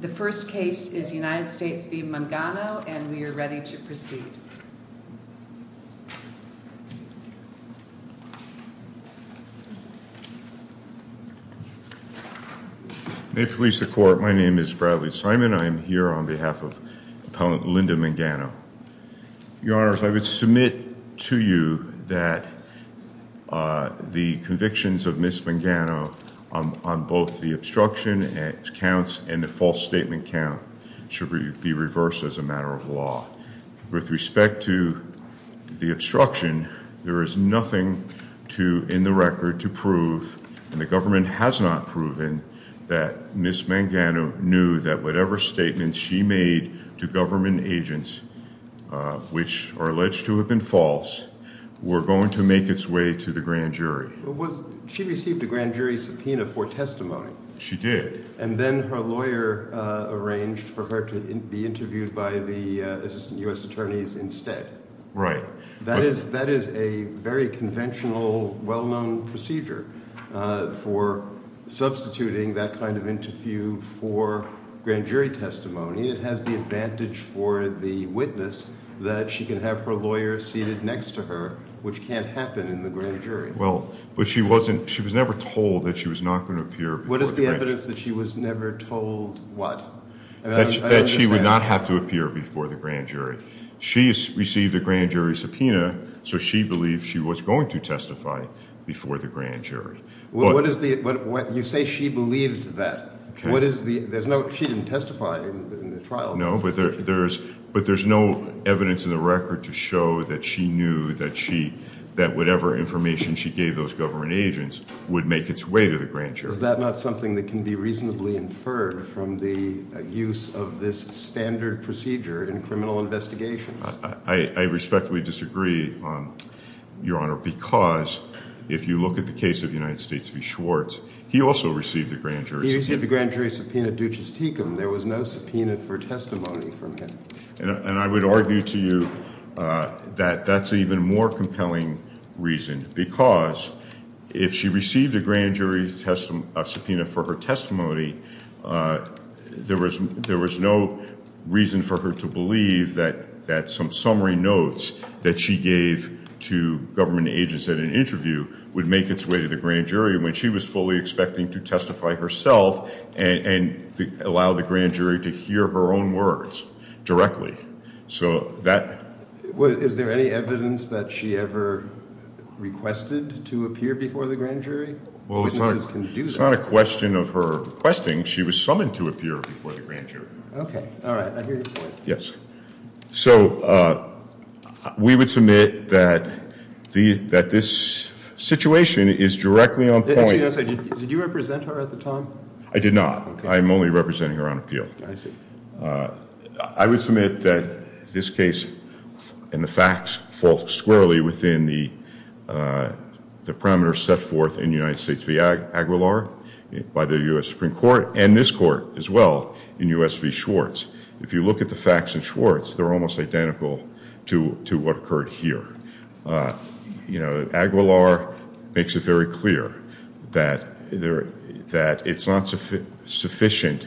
The first case is United States v. Mangano and we are ready to proceed. May it please the court, my name is Bradley Simon. I am here on behalf of Linda Mangano. Your honors, I would submit to you that the convictions of Ms. Mangano on both the obstruction counts and the false statement count should be reversed as a matter of law. With respect to the obstruction, there is nothing in the record to prove, and the government has not proven, that Ms. Mangano knew that whatever statements she made to government agents, which are alleged to have been false, were going to make its way to the grand jury. She received a grand jury subpoena for testimony. She did. And then her lawyer arranged for her to be interviewed by the assistant U.S. attorneys instead. Right. That is a very conventional, well-known procedure for substituting that kind of interview for grand jury testimony. It has the advantage for the witness that she can have her lawyer seated next to her, which can't happen in the grand jury. Well, but she was never told that she was not going to appear. What is the evidence that she was never told what? That she would not have to appear before the grand jury. She received a grand jury subpoena, so she believed she was going to testify before the grand jury. But you say she believed that. She didn't testify in the trial. No, but there's no evidence in the record to show that she knew that whatever information she gave those government agents would make its way to the grand jury. Is that not something that can be reasonably inferred from the use of this standard procedure in criminal investigations? I respectfully disagree, Your Honor, because if you look at the case of the United States v. Schwartz, he also received a grand jury subpoena. He received a grand jury subpoena, there was no subpoena for testimony from him. And I would argue to you that that's an even more compelling reason, because if she received a grand jury subpoena for her testimony, there was no reason for her to believe that some summary notes that she gave to government agents at an interview would make its way to the grand jury when she was fully expecting to testify herself and allow the grand jury to hear her own words directly. Is there any evidence that she ever requested to appear before the grand jury? Well, it's not a question of her requesting, she was summoned to appear before the grand jury. Okay, all right, I hear you. Yes, so we would that this situation is directly on point. Did you represent her at the time? I did not, I'm only representing her on appeal. I see. I would submit that this case and the facts fall squarely within the parameters set forth in the United States v. Aguilar by the U.S. Supreme Court and this court as well in U.S. v. Schwartz. If you look at the facts in Schwartz, they're almost identical to what occurred here. You know, Aguilar makes it very clear that it's not sufficient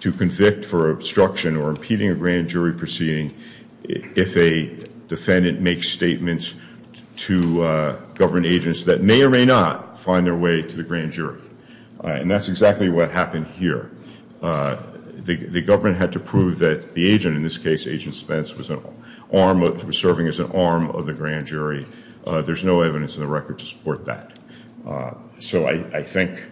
to convict for obstruction or impeding a grand jury proceeding if a defendant makes statements to government agents that may or may not find their way to the grand jury, and that's exactly what happened here. The government had to prove that the agent, in this case Agent Spence, was serving as an arm of the grand jury. There's no evidence in the record to support that. So I think...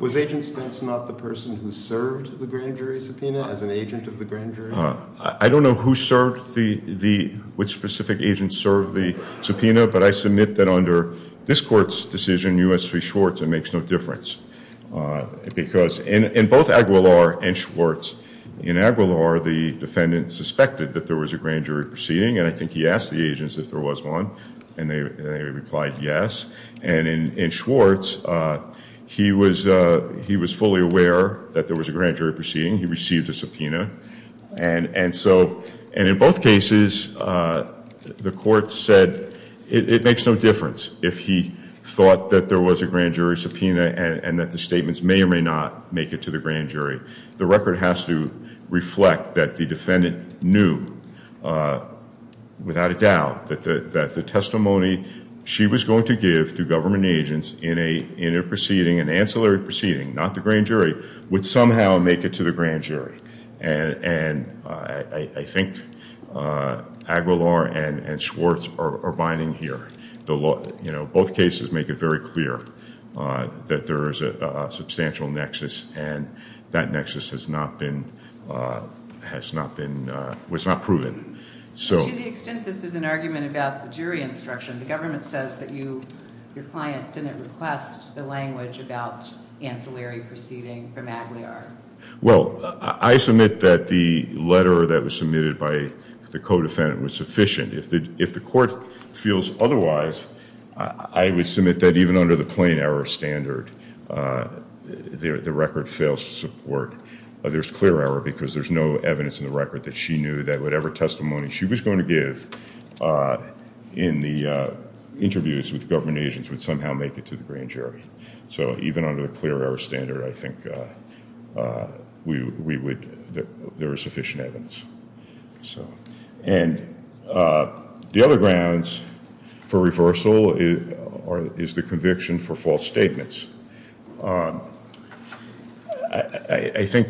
Was Agent Spence not the person who served the grand jury subpoena as an agent of the grand jury? I don't know who served the, which specific agent served the subpoena, but I submit that under this court's decision, U.S. v. Schwartz, it makes no difference, because in both Aguilar and Schwartz, in Aguilar, the defendant suspected that there was a grand jury proceeding, and I think he asked the agents if there was one, and they replied yes, and in Schwartz, he was fully aware that there was a grand jury proceeding. He received a subpoena, and so in both cases, the court said it makes no difference if he thought that there was a grand jury subpoena and that the statements may or may not make it to the grand jury. The record has to reflect that the defendant knew, without a doubt, that the testimony she was going to give to government agents in a proceeding, an ancillary proceeding, not the grand jury, would somehow make it to the grand jury, and I think Aguilar and Schwartz are binding here. Both cases make it very clear that there is a substantial nexus, and that nexus has not been, has not been, was not proven, so. To the extent that this is an argument about the jury instruction, the government says that you, your client, didn't request the language about ancillary proceeding from Aguilar. Well, I submit that the letter that was submitted by the co-defendant was sufficient. If the court feels otherwise, I would submit that even under the plain error standard, the record fails to support. There's clear error because there's no evidence in the record that she knew that whatever testimony she was going to give in the interviews with government agents would somehow make it to the grand jury. So even under a clear error standard, I think we would, there are sufficient evidence. So, and the other grounds for reversal is, is the conviction for false statements. I think,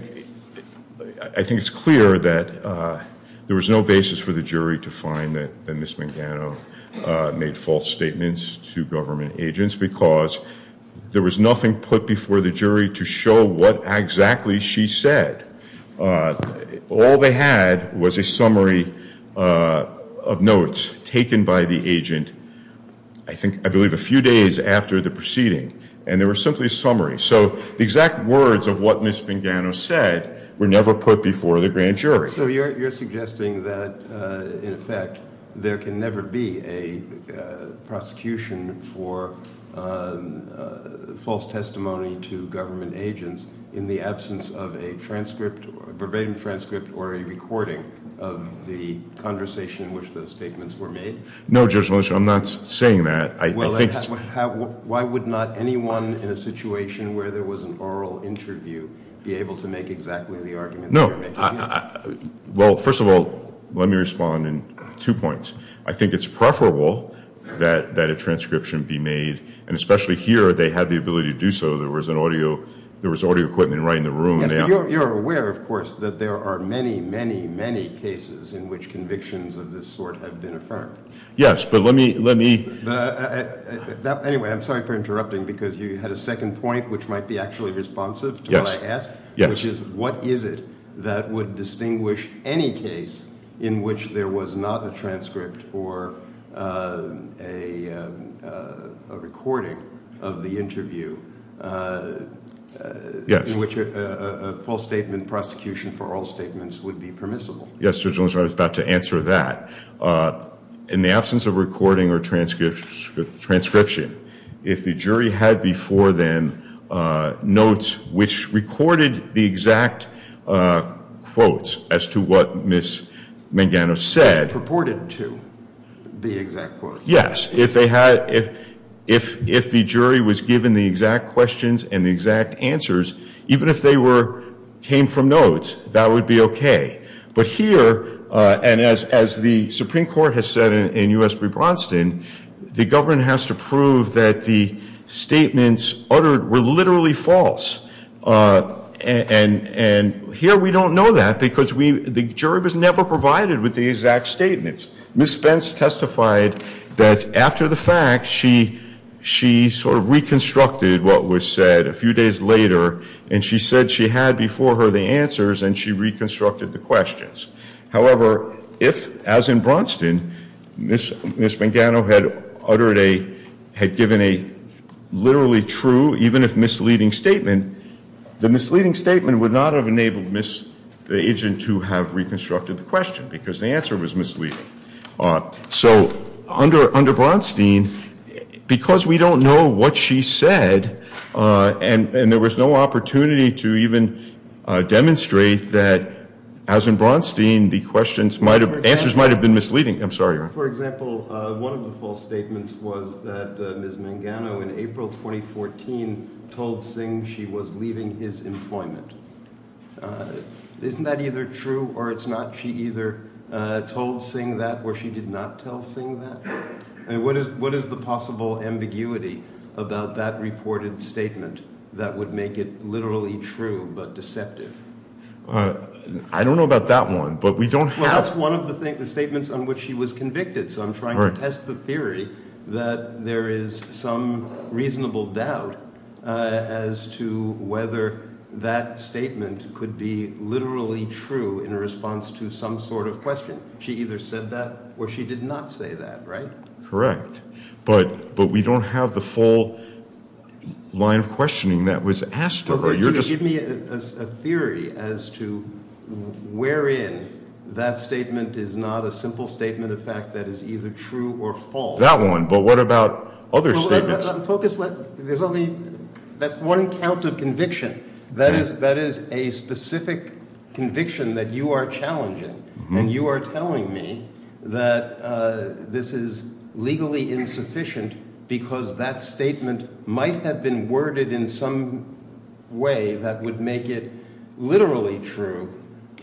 I think it's clear that there was no basis for the jury to find that Ms. Mangano made false statements to government agents because there was nothing put before the jury to show what exactly she said. All they had was a summary of notes taken by the agent, I think, I believe a few days after the proceeding, and there was simply a summary. So exact words of what Ms. Mangano said were never put before the grand jury. So you're suggesting that, in effect, there can never be a prosecution for false testimony to government agents in the absence of a transcript, verbatim transcript, or a recording of the conversation in which those statements were made? No, Judge Moshe, I'm not saying that. I think it's... Why would not anyone in a situation where there was an oral interview be able to make exactly the argument that you're making? No. Well, first of all, let me respond in two points. I think it's preferable that a transcription be made, and especially here, they had the ability to do so. There was an audio, there was audio equipment right in the room. You're aware, of course, that there are many, many, many cases in which convictions of this sort have been affirmed. Yes, but let me, let me... Anyway, I'm sorry for interrupting because you had a second point which might be actually responsive to what I asked, which is, what is it that would distinguish any case in which there was not a transcript or a recording of the interview in which a false statement prosecution for all statements would be permissible? Yes, Judge Moshe, I was about to answer that. In the absence of recording or transcription, if the jury had before them notes which recorded the exact quotes as to what Ms. Mangano said... Purported to be exact quotes. Yes. If they had, if the jury was given the exact questions and the exact answers, even if they were, came from notes, that would be okay. But here, and as, as the Supreme Court has said in U.S. v. Bronston, the governor has to prove that the statements uttered were literally false. And, and here we don't know that because we, the jury was never provided with the exact statements. Ms. Spence testified that after the fact, she, she sort of reconstructed what was said a few days later. And she said she had before her the answers and she reconstructed the questions. However, if, as in Bronston, Ms. Mangano had uttered a, had given a literally true, even if misleading statement, the misleading statement would not have enabled Ms., the agent to have reconstructed the question because the answer was misleading. So under, under Bronstein, because we don't know what she said and, and there was no opportunity to even demonstrate that, as in Bronstein, the questions might have, answers might have been misleading. I'm sorry. For example, one of the false statements was that Ms. Mangano in April 2014 told Singh she was leaving his employment. Isn't that either true or it's not? She either told Singh that or she did not tell Singh that? I mean, what is, what is the possible ambiguity about that reported statement that would make it literally true but deceptive? I don't know about that one, but we don't know. That's one of the things, the statements on which she was convicted. So I'm trying to test the theories that there is some reasonable doubt as to whether that statement could be literally true in response to some sort of question. She either said that or she did not say that, right? Correct. But, but we don't have the full line of questioning that was asked of her. Give me a theory as to wherein that statement is not a simple statement of fact that is either true or false. That one, but what about other statements? Focus, there's only, that's one count of conviction. That is, that is a specific conviction that you are challenging and you are telling me that this is legally insufficient because that statement might have been worded in some way that would make it literally true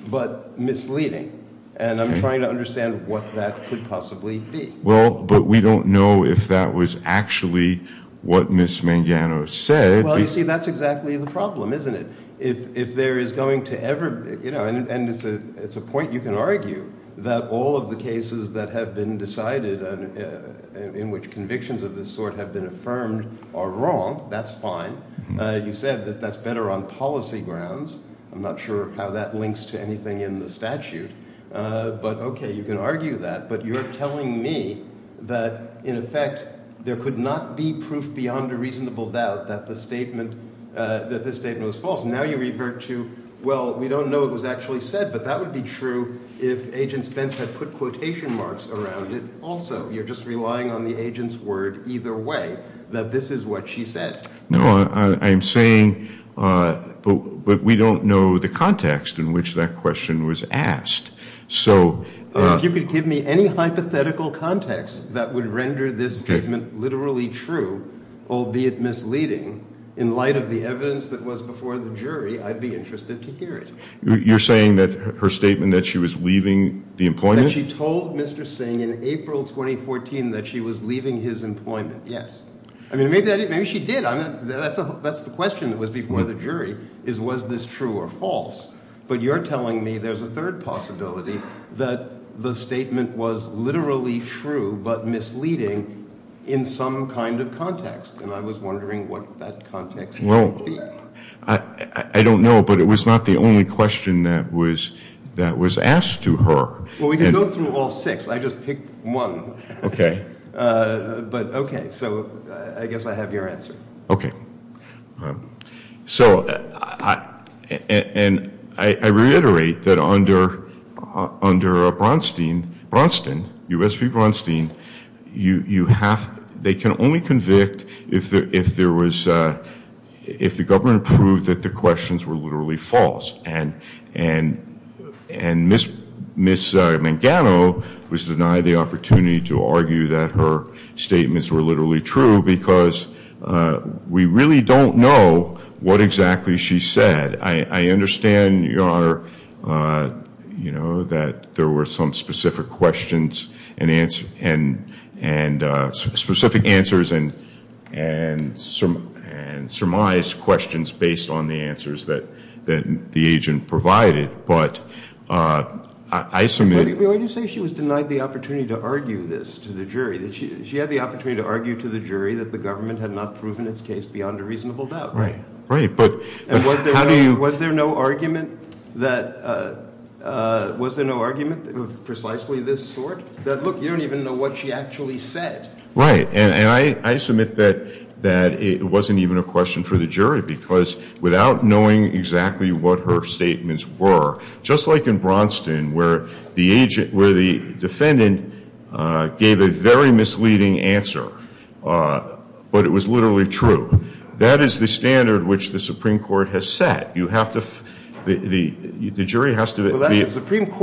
but misleading. And I'm trying to understand what that could possibly be. Well, but we don't know if that was actually what Ms. Mangano said. Well, you see, that's exactly the problem, isn't it? If, if there is going to ever, you know, and it's a, it's a point you can argue that all of the cases that have been decided in which convictions of this sort have been affirmed are wrong, that's fine. You said that that's better on policy grounds. I'm not sure how that links to anything in the statute, but okay, you can argue that, but you're telling me that, in effect, there could not be proof beyond a reasonable doubt that the statement, that the statement was false. Now you revert to, well, we don't know what was actually said, but that would be true if Agent Spence had put quotation marks around it. Also, you're just relying on the agent's word either way, that this is what she said. No, I'm saying, but we don't know the context in which that question was asked, so. If you could give me any hypothetical context that would render this statement literally true, albeit misleading, in light of the evidence that was before the jury, I'd be interested to hear it. You're saying that her statement that she was leaving the employment? That she told Mr. Singh in April 2014 that she was leaving his employment, yes. I mean, maybe, maybe she did. I mean, that's the, that's the question that was before the jury, is was this true or false? But you're telling me there's a third possibility, that the statement was literally true, but misleading in some kind of context, and I was wondering what that context was. Well, I don't know, but it was not the only question that was, that was asked to her. Well, we can go through all six. I just picked one. Okay. But okay, so I guess I have your answer. Okay. So I, and I reiterate that under, under Bronstein, Bronstein, U.S. v. Bronstein, you, you have, they can only convict if there, if there was, if the government proved that the questions were literally false, and, and, and Ms., Ms. Mangano was denied the opportunity to argue that her statements were literally true, because we really don't know what exactly she said. I, I understand, Your Honor, you know, that there were some specific questions, and answers, and, and specific answers, and, and, and surmised questions based on the answers that, that the agent provided, but I, I submit. Well, you say she was denied the opportunity to argue this to the jury, that she, she had the opportunity to argue to the jury that the government had not proven its case beyond a reasonable doubt. Right, right, but. And was there, was there no argument that, was there no argument of precisely this sort? That look, you don't even know what she actually said. Right, and, and I, I submit that, that it wasn't even a question for the jury, because without knowing exactly what her statements were, just like in Bronstein, where the agent, where the defendant gave a very misleading answer, but it was literally true. That is the standard which the Supreme Court has set. You have to, the, the, the jury has to. Well, that's what the that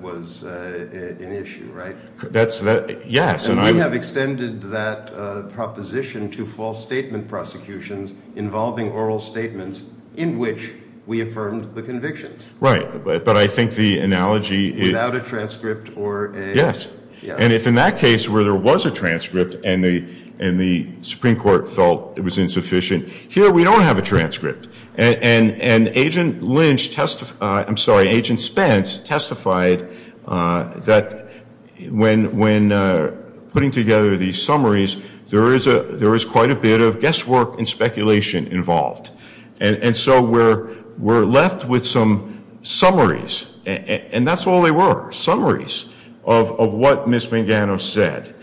was an issue, right? That's the, yes. And we have extended that proposition to false statement prosecutions involving oral statements in which we affirmed the convictions. Right, but, but I think the analogy is. Without a transcript or a. Yes, and if in that case where there was a transcript, and the, and the Supreme Court felt it was insufficient, here we don't have a transcript, and, and, and Agent Lynch testified, I'm sorry, Agent Spence testified that when, when putting together these summaries, there is a, there is quite a bit of guesswork and speculation involved, and, and so we're, we're left with some summaries, and that's all they were, summaries of, of what Ms. Mangano said.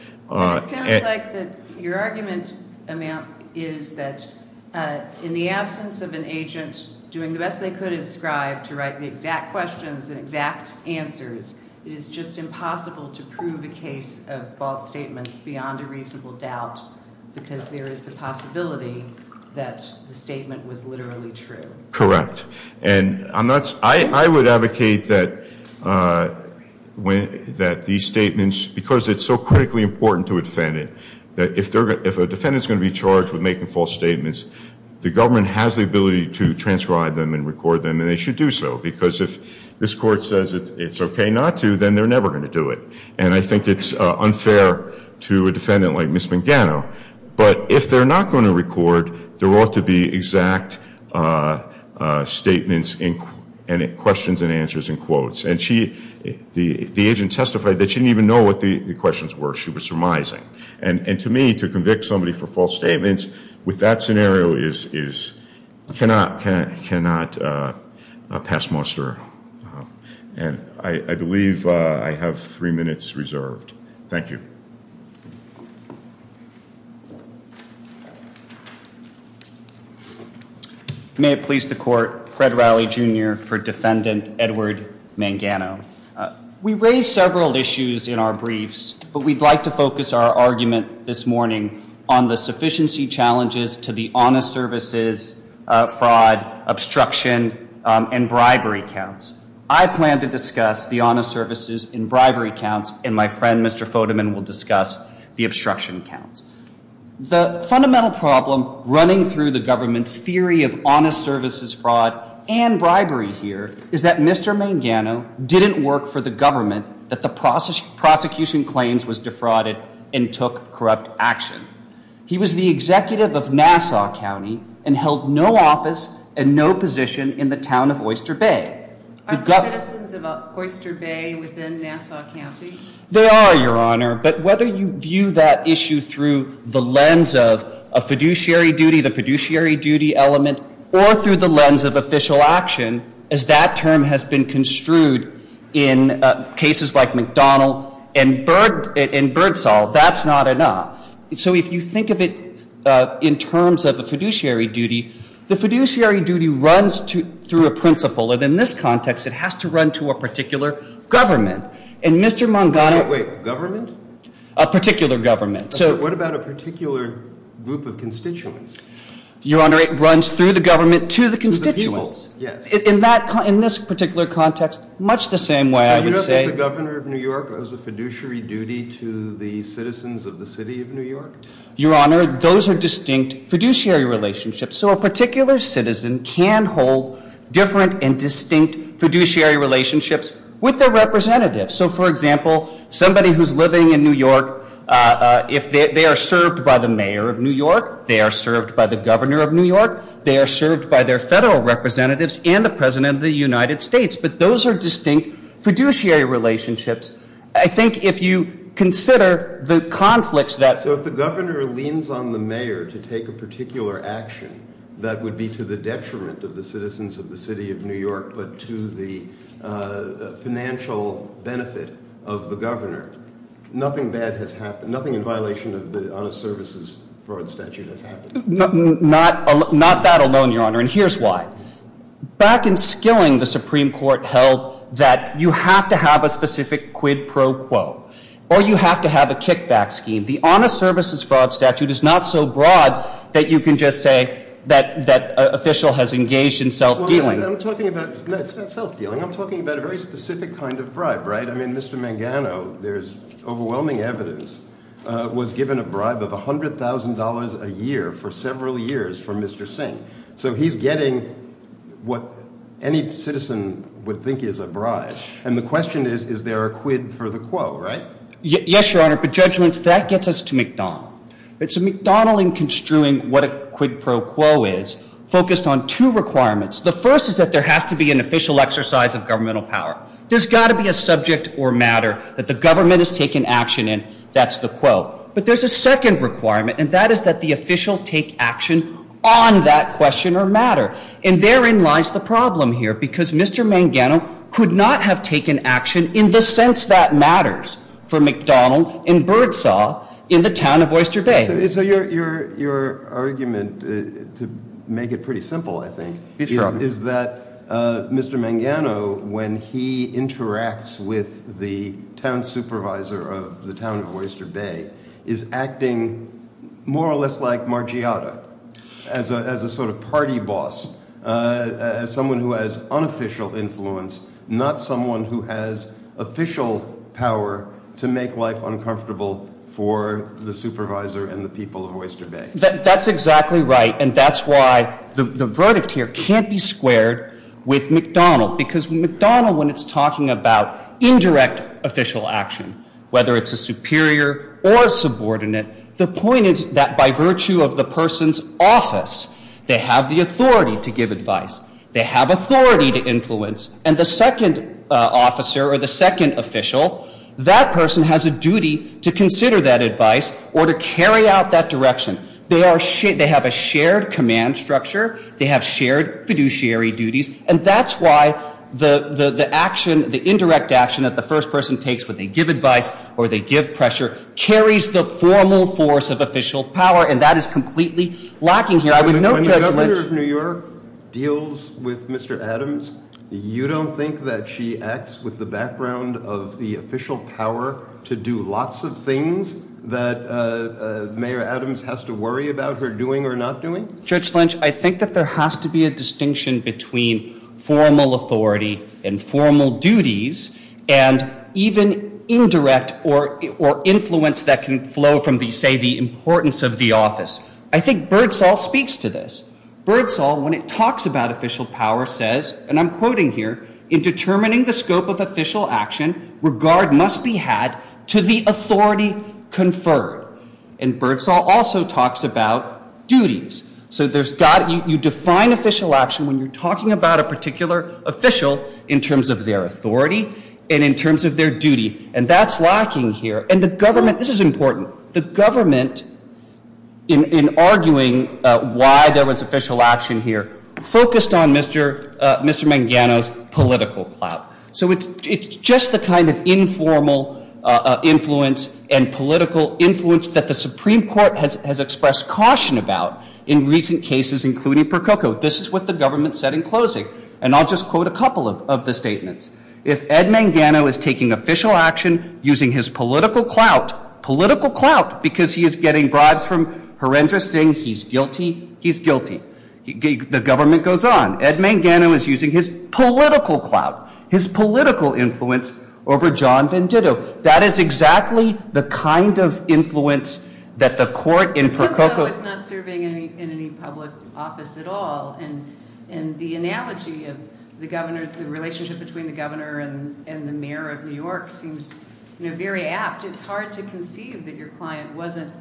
Your argument is that in the absence of an agent doing the best they could inscribe to write the exact questions and exact answers, it is just impossible to prove a case of false statements beyond a reasonable doubt, because there is the possibility that the statement was literally true. Correct, and I'm not, I, I would advocate that when, that these statements, because it's so critically important to a defendant, that if they're, if a defendant's going to be charged with making false statements, the government has the ability to transcribe them and record them, and they should do so, because if this court says it's okay not to, then they're never going to do it, and I think it's unfair to a defendant like Ms. Mangano, but if they're not going to record, there ought to be exact statements and questions and answers and quotes, and she, the, the agent testified that she didn't even know what the questions were, she was surmising, and, and to me, to convict somebody for false statements with that scenario is, is, cannot, cannot pass muster, and I, I believe I have three minutes reserved. Thank you. May it please the court, Fred Riley Jr. for defendant Edward Mangano. We raised several issues in our briefs, but we'd like to focus our argument this morning on the sufficiency challenges to the honest services fraud obstruction and bribery counts. I plan to discuss the honest services and bribery counts, and my friend Mr. Fodeman will discuss the obstruction counts. The fundamental problem running through the government's theory of honest services fraud and bribery here is that Mr. Mangano didn't work for the government that the prosecution claims was defrauded and took corrupt action. He was the executive of Nassau County and held no office and no position in the town of Oyster Bay. Are there questions about Oyster Bay within Nassau County? There are, your honor, but whether you view that issue through the lens of a fiduciary duty, the fiduciary duty element, or through the lens of official action, as that term has been inverted, that's not enough. So if you think of it in terms of the fiduciary duty, the fiduciary duty runs through a principle, and in this context, it has to run to a particular government, and Mr. Mangano... Wait, government? A particular government. What about a particular group of constituents? Your honor, it runs through the government to the constituents. Yes. In this particular context, much the same way, I would say... You don't think the governor of New York has a fiduciary duty to the citizens of the city of New York? Your honor, those are distinct fiduciary relationships. So a particular citizen can hold different and distinct fiduciary relationships with their representatives. So for example, somebody who's living in New York, if they are served by the mayor of New York, they are served by the governor of New York, they are served by their federal representatives and the president of the United States, but those are distinct fiduciary relationships. I think if you consider the conflicts that... So if the governor leans on the mayor to take a particular action that would be to the detriment of the citizens of the city of New York, but to the financial benefit of the governor, nothing bad has happened, nothing in violation of the honest services fraud statute has happened. Not that here's why. Back in Skilling, the Supreme Court held that you have to have a specific quid pro quo, or you have to have a kickback scheme. The honest services fraud statute is not so broad that you can just say that an official has engaged in self-dealing. I'm talking about a very specific kind of bribe, right? I mean, Mr. Mangano, there's overwhelming evidence, was given a bribe of a year, for several years, from Mr. Singh. So he's getting what any citizen would think is a bribe, and the question is, is there a quid for the quo, right? Yes, your honor, but judgements, that gets us to McDonnell. It's McDonnell in construing what a quid pro quo is, focused on two requirements. The first is that there has to be an official exercise of governmental power. There's got to be a subject or matter that the government is taking action in, that's the quo. But there's a second requirement, and that is that the official take action on that question or matter. And therein lies the problem here, because Mr. Mangano could not have taken action in the sense that matters for McDonnell and Birdsaw in the town of Oyster Bay. So your argument, to make it pretty simple, I think, is that Mr. Mangano, when he interacts with the town supervisor of the town of Oyster Bay, is acting more or less like Margiotto, as a sort of party boss, as someone who has unofficial influence, not someone who has official power to make life uncomfortable for the supervisor and the people of Oyster Bay. That's exactly right, and that's why the verdict here can't be squared with McDonnell, because McDonnell, when it's talking about indirect official action, whether it's a superior or a subordinate, the point is that by virtue of the person's office, they have the authority to give advice, they have authority to influence, and the second officer or the second official, that person has a duty to consider that advice or to carry out that direction. They have a shared command structure, they have shared fiduciary duties, and that's why the action, the indirect action that the first person takes, whether they give advice or they give pressure, carries the formal force of official power, and that is completely lacking here. I would note that Governor of New York deals with Mr. Adams. You don't think that she acts with the background of the official power to do lots of things that Mayor Adams has to worry about her doing or not doing? Judge Lynch, I think that there has to be a distinction between formal authority and formal duties and even indirect or influence that can flow from, say, the importance of the office. I think Birdsall speaks to this. Birdsall, when it talks about official power, says, and I'm quoting here, in determining the scope of official action, regard must be had to the authority conferred, and Birdsall also talks about duties. So you define official action when you're talking about a particular official in terms of their authority and in terms of their duty, and that's lacking here. And the government, this is important, the government, in arguing why there was official action here, focused on Mr. Mangano's political plot. So it's just the kind of informal influence and political influence that the Supreme Court has expressed caution about in recent cases, including Percoco. This is what the government said in closing, and I'll just quote a couple of the statements. If Ed Mangano is taking official action using his political clout, political clout because he is getting bribes from horrendous things, he's guilty, he's guilty. The government goes on. Ed Mangano is using his political clout, his political influence over John Venditto. That is exactly the kind of influence that the court in Percoco... Percoco is not serving in any public office at all, and the analogy of the relationship between the governor and the mayor of New York seems very apt. It's hard to conceive that your client wasn't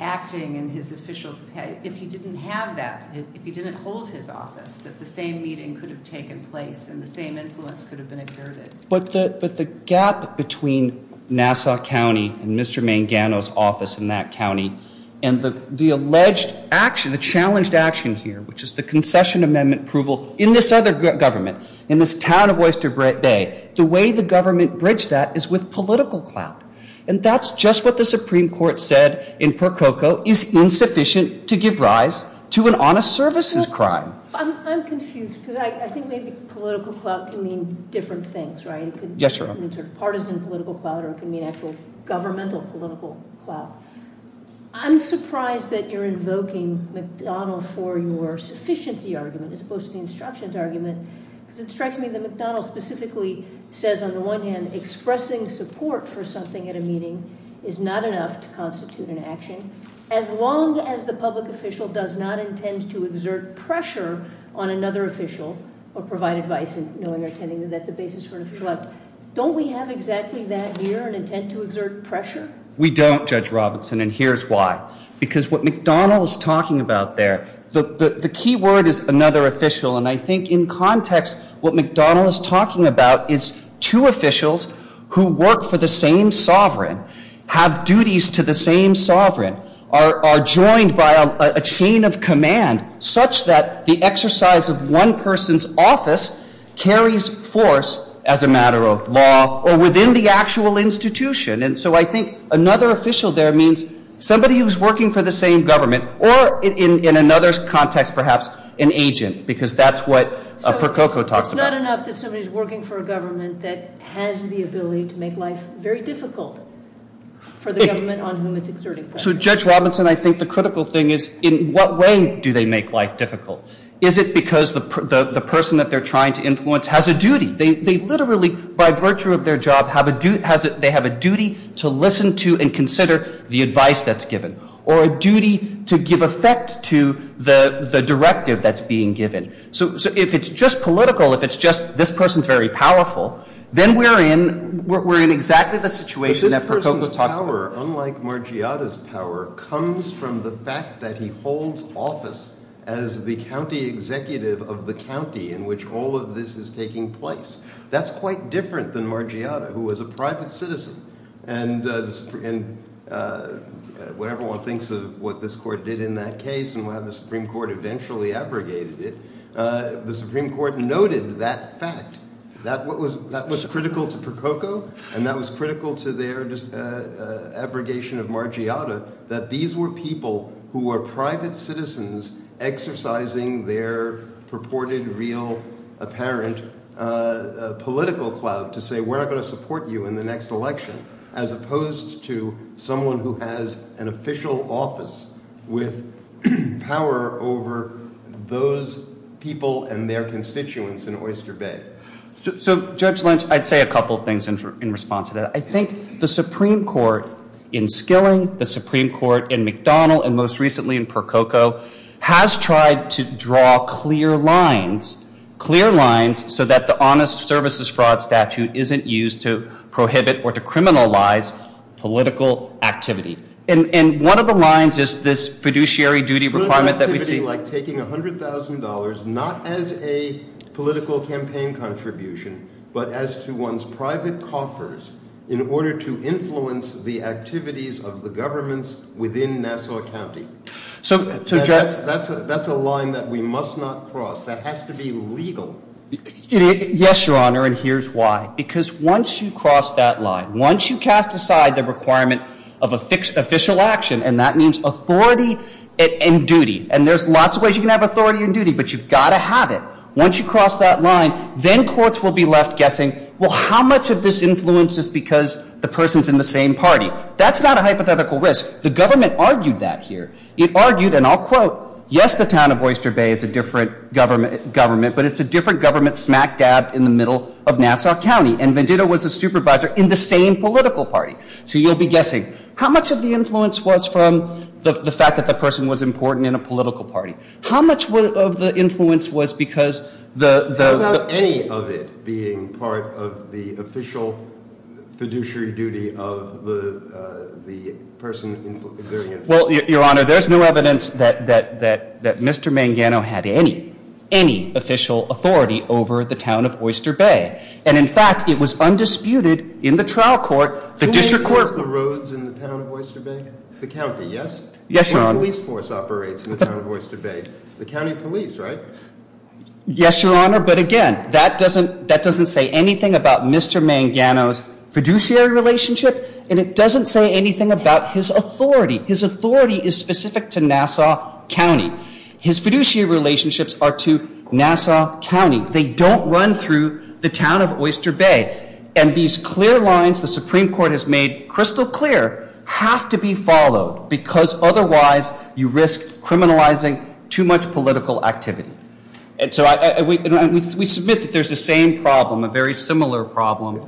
acting in his official capacity, if he didn't have that, if he didn't hold his office, that the same meeting could have taken place and the same influence could have been exerted. But the gap between Nassau County and Mr. Mangano's office in that county and the alleged action, the challenged action here, which is the concession amendment approval in this other government, in this town of Oyster Bay, the way the government bridged that is with political clout, and that's just what the Supreme Court said in Percoco is insufficient to give rise to an honest services crime. I'm confused because I think political clout can mean different things, right? Yes, sir. Partisan political clout or it can mean actual governmental political clout. I'm surprised that you're invoking McDonnell for your sufficiency argument as opposed to the instruction's argument, because it strikes me that McDonnell specifically says on the one hand, expressing support for something at a meeting is not enough to constitute an action, as long as the public official does not intend to exert pressure on another official or provide advice. Don't we have exactly that here, an intent to exert pressure? We don't, Judge Robertson, and here's why. Because what McDonnell is talking about there, the key word is another official, and I think in context what McDonnell is talking about is two officials who work for the same sovereign are joined by a chain of command such that the exercise of one person's office carries force as a matter of law or within the actual institution, and so I think another official there means somebody who's working for the same government, or in another context, perhaps an agent, because that's what Percoco talks about. It's not enough that somebody's working for a government that has the ability to make life very difficult for the government so Judge Robertson, I think the critical thing is in what way do they make life difficult? Is it because the person that they're trying to influence has a duty? They literally, by virtue of their job, they have a duty to listen to and consider the advice that's given, or a duty to give effect to the directive that's being given. So if it's just political, if it's just this person's very power comes from the fact that he holds office as the county executive of the county in which all of this is taking place, that's quite different than Margiotta, who was a private citizen, and whatever one thinks of what this court did in that case and why the Supreme Court eventually abrogated it, the Supreme Court noted that fact. That was critical to Percoco, and that was that these were people who were private citizens exercising their purported real apparent political clout to say we're not going to support you in the next election, as opposed to someone who has an official office with power over those people and their constituents in Oyster Bay. So Judge Lynch, I'd say a couple things in response to that. I think the Supreme Court in Skilling, the Supreme Court in McDonnell, and most recently in Percoco, has tried to draw clear lines, clear lines so that the Honest Services Fraud Statute isn't used to prohibit or to criminalize political activity. And one of the lines is this fiduciary duty requirement that we see like taking $100,000 not as a political campaign contribution, but as to one's private coffers in order to influence the activities of the governments within Nassau County. That's a line that we must not cross. That has to be legal. Yes, Your Honor, and here's why. Because once you cross that line, once you cast aside the requirement of official action, and that means authority and duty, and there's lots of ways you can have authority and duty, but you've got to have it. Once you cross that line, then courts will be left guessing, well, how much of this influence is because the person's in the same party? That's not a hypothetical risk. The government argued that here. It argued, and I'll quote, yes, the town of Oyster Bay is a different government, but it's a different government smack dab in the middle of Nassau County. And Venditto was a supervisor in the same political party. So you'll be guessing, how much of the influence was from the fact that the person was being part of the official fiduciary duty of the person who's been preserving it? Well, Your Honor, there's no evidence that Mr. Mangano had any official authority over the town of Oyster Bay. And in fact, it was undisputed in the trial court, the district court. The roads in the town of Oyster Bay? The county, yes? Yes, Your Honor. The police force operates in the town of Oyster Bay. The county police, right? Yes, Your Honor, but again, that doesn't say anything about Mr. Mangano's fiduciary relationship, and it doesn't say anything about his authority. His authority is specific to Nassau County. His fiduciary relationships are to Nassau County. They don't run through the town of Oyster Bay. And these clear lines the Supreme Court has made crystal clear have to be followed because otherwise you risk criminalizing too much political activity. And so we submit that there's the same problem, a very similar problem.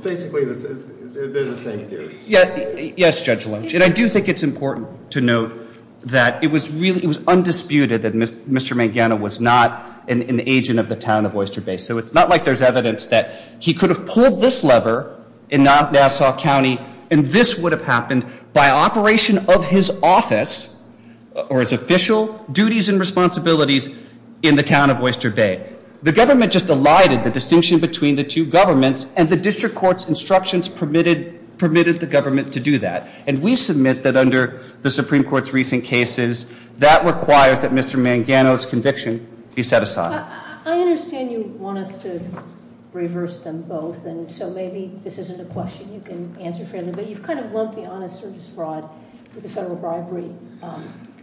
Yes, Judge Lynch, and I do think it's important to note that it was really undisputed that Mr. Mangano was not an agent of the town of Oyster Bay. So it's not like there's evidence that he could have pulled this lever in Nassau County, and this would have happened by operation of his office or his official duties and responsibilities in the town of Oyster Bay. The government just elided the distinction between the two governments, and the district court's instructions permitted the government to do that. And we submit that under the Supreme Court's recent cases, that requires that Mr. Mangano's conviction be set aside. I understand you wanted to reverse them both, and so maybe this isn't a question you can answer fairly, but you've kind of lumped the honest service fraud with the federal bribery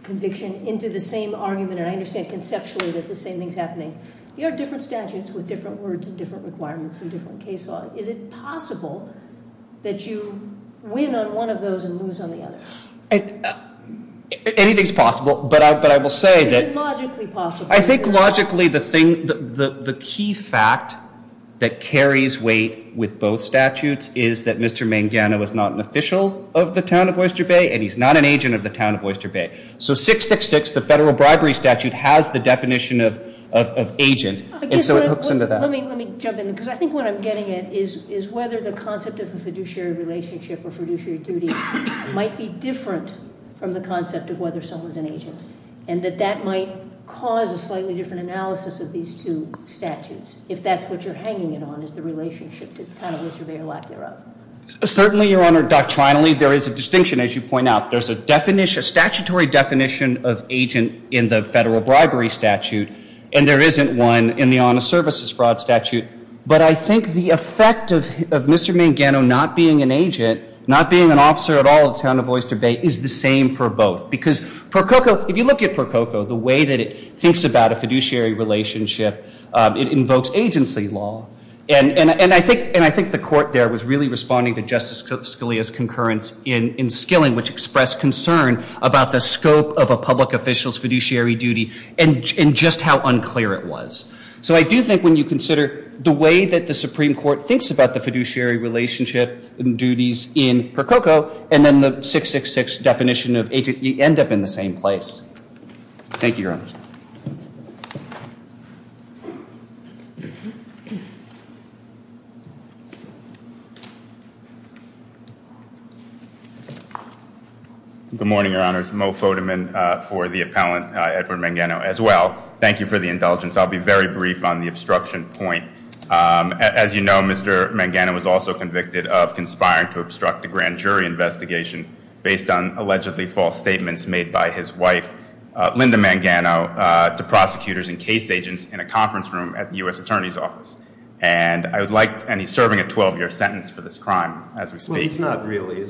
conviction into the same argument, and I understand conceptually that the same thing's happening. You have different statutes with different words and different requirements and different case law. Is it possible that you win on one of those and lose on the other? Anything's possible, but I will say that... It is logically possible. I think logically the key fact that carries weight with both statutes is that Mr. Mangano is not an official of the town of Oyster Bay, and he's not an agent of the town of Oyster Bay. So 666, the federal bribery statute, has the definition of agent, and so it hooks into that. Let me jump in, because I think what I'm getting at is whether the concept of a fiduciary relationship or fiduciary duty might be different from the concept of whether someone's an agent, and that that might cause a slightly different analysis of these two statutes, if that's what you're hanging it on, is the relationship to kind of Mr. Mangano. Certainly, Your Honor, doctrinally there is a distinction, as you point out. There's a statutory definition of agent in the federal bribery statute, and there isn't one in the honest services fraud statute, but I think the effect of Mr. Mangano not being an agent, not being an officer at all at the town of Oyster Bay, is the same for both, because Prococo, if you look at Prococo, the way that it thinks about a fiduciary relationship, it invokes agency law, and I think the court there was really responding to Justice Scalia's concurrence in Skilling, which expressed concern about the scope of a public official's fiduciary duty and just how unclear it was. So I do think when you consider the way that the Supreme Court thinks about the fiduciary relationship and duties in Prococo, and then the 666 definition of agency, you end up in the same place. Thank you, Your Honor. Good morning, Your Honor. It's Mo Fodeman for the appellant, Edward Mangano, as well. Thank you for the indulgence. I'll be very brief on the obstruction point. As you know, Mr. Mangano was also convicted of conspiring to obstruct a grand jury investigation based on allegedly false statements made by his wife, Linda Mangano, to prosecutors and case agents in a conference room at the U.S. Attorney's Office, and he's serving a 12-year sentence for this crime as we speak. Well, he's not really.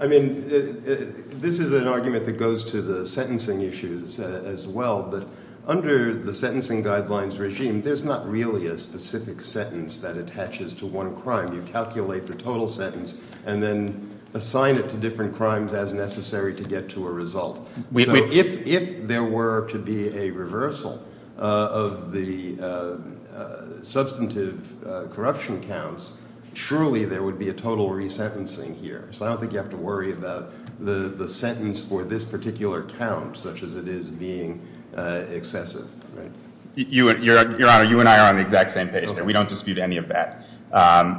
I mean, this is an argument that goes to the sentencing issues as well, but under the sentencing guidelines regime, there's not really a specific sentence that attaches to one crime. You calculate the total sentence and then assign it to different crimes as necessary to get to a result. So if there were to be a reversal of the substantive corruption counts, surely there would be a total resentencing here. So I don't think you have to worry about the sentence for this case. Your Honor, you and I are on the exact same page here. We don't dispute any of that.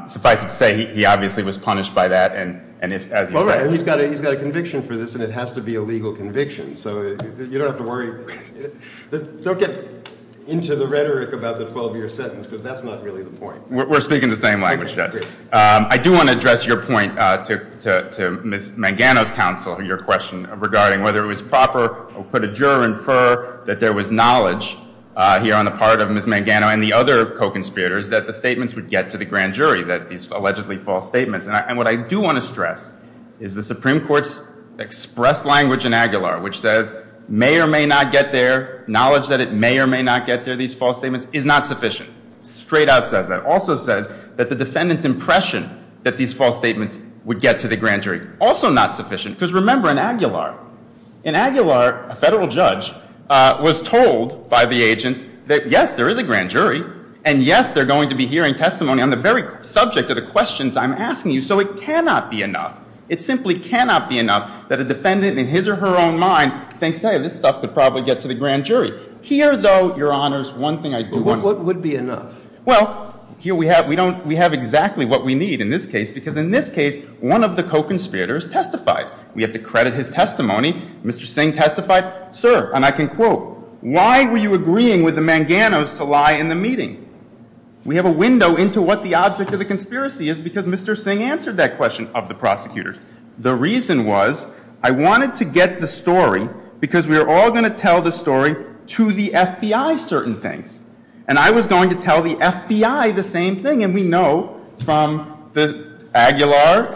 Suffice it to say, he obviously was punished by that, and it's as you say. He's got a conviction for this, and it has to be a legal conviction, so you don't have to worry. Don't get into the rhetoric about the 12-year sentence, because that's not really the point. We're speaking the same language, Judge. I do want to address your point to Ms. Mangano's counsel, your question regarding whether it was proper for the juror to infer that there was here on the part of Ms. Mangano and the other co-conspirators that the statements would get to the grand jury, these allegedly false statements. And what I do want to stress is the Supreme Court's express language in Aguilar, which says, may or may not get there, knowledge that it may or may not get there, these false statements, is not sufficient. Straight out says that. Also says that the defendant's impression that these false statements would get to the grand jury, also not sufficient. Remember, in Aguilar, a federal judge was told by the agent that, yes, there is a grand jury, and yes, they're going to be hearing testimony on the very subject of the questions I'm asking you, so it cannot be enough. It simply cannot be enough that a defendant in his or her own mind thinks, hey, this stuff could probably get to the grand jury. Here, though, Your Honors, one thing I do want to say. What would be enough? Well, here we have exactly what we need in this case, because in this case, one of the co-conspirators testified. We have to credit his testimony. Mr. Singh testified. Sir, and I can quote, why were you agreeing with the Manganos to lie in the meeting? We have a window into what the object of the conspiracy is, because Mr. Singh answered that question of the prosecutors. The reason was, I wanted to get the story, because we were all going to tell the story to the FBI, certain things. And I was going to tell the FBI the story.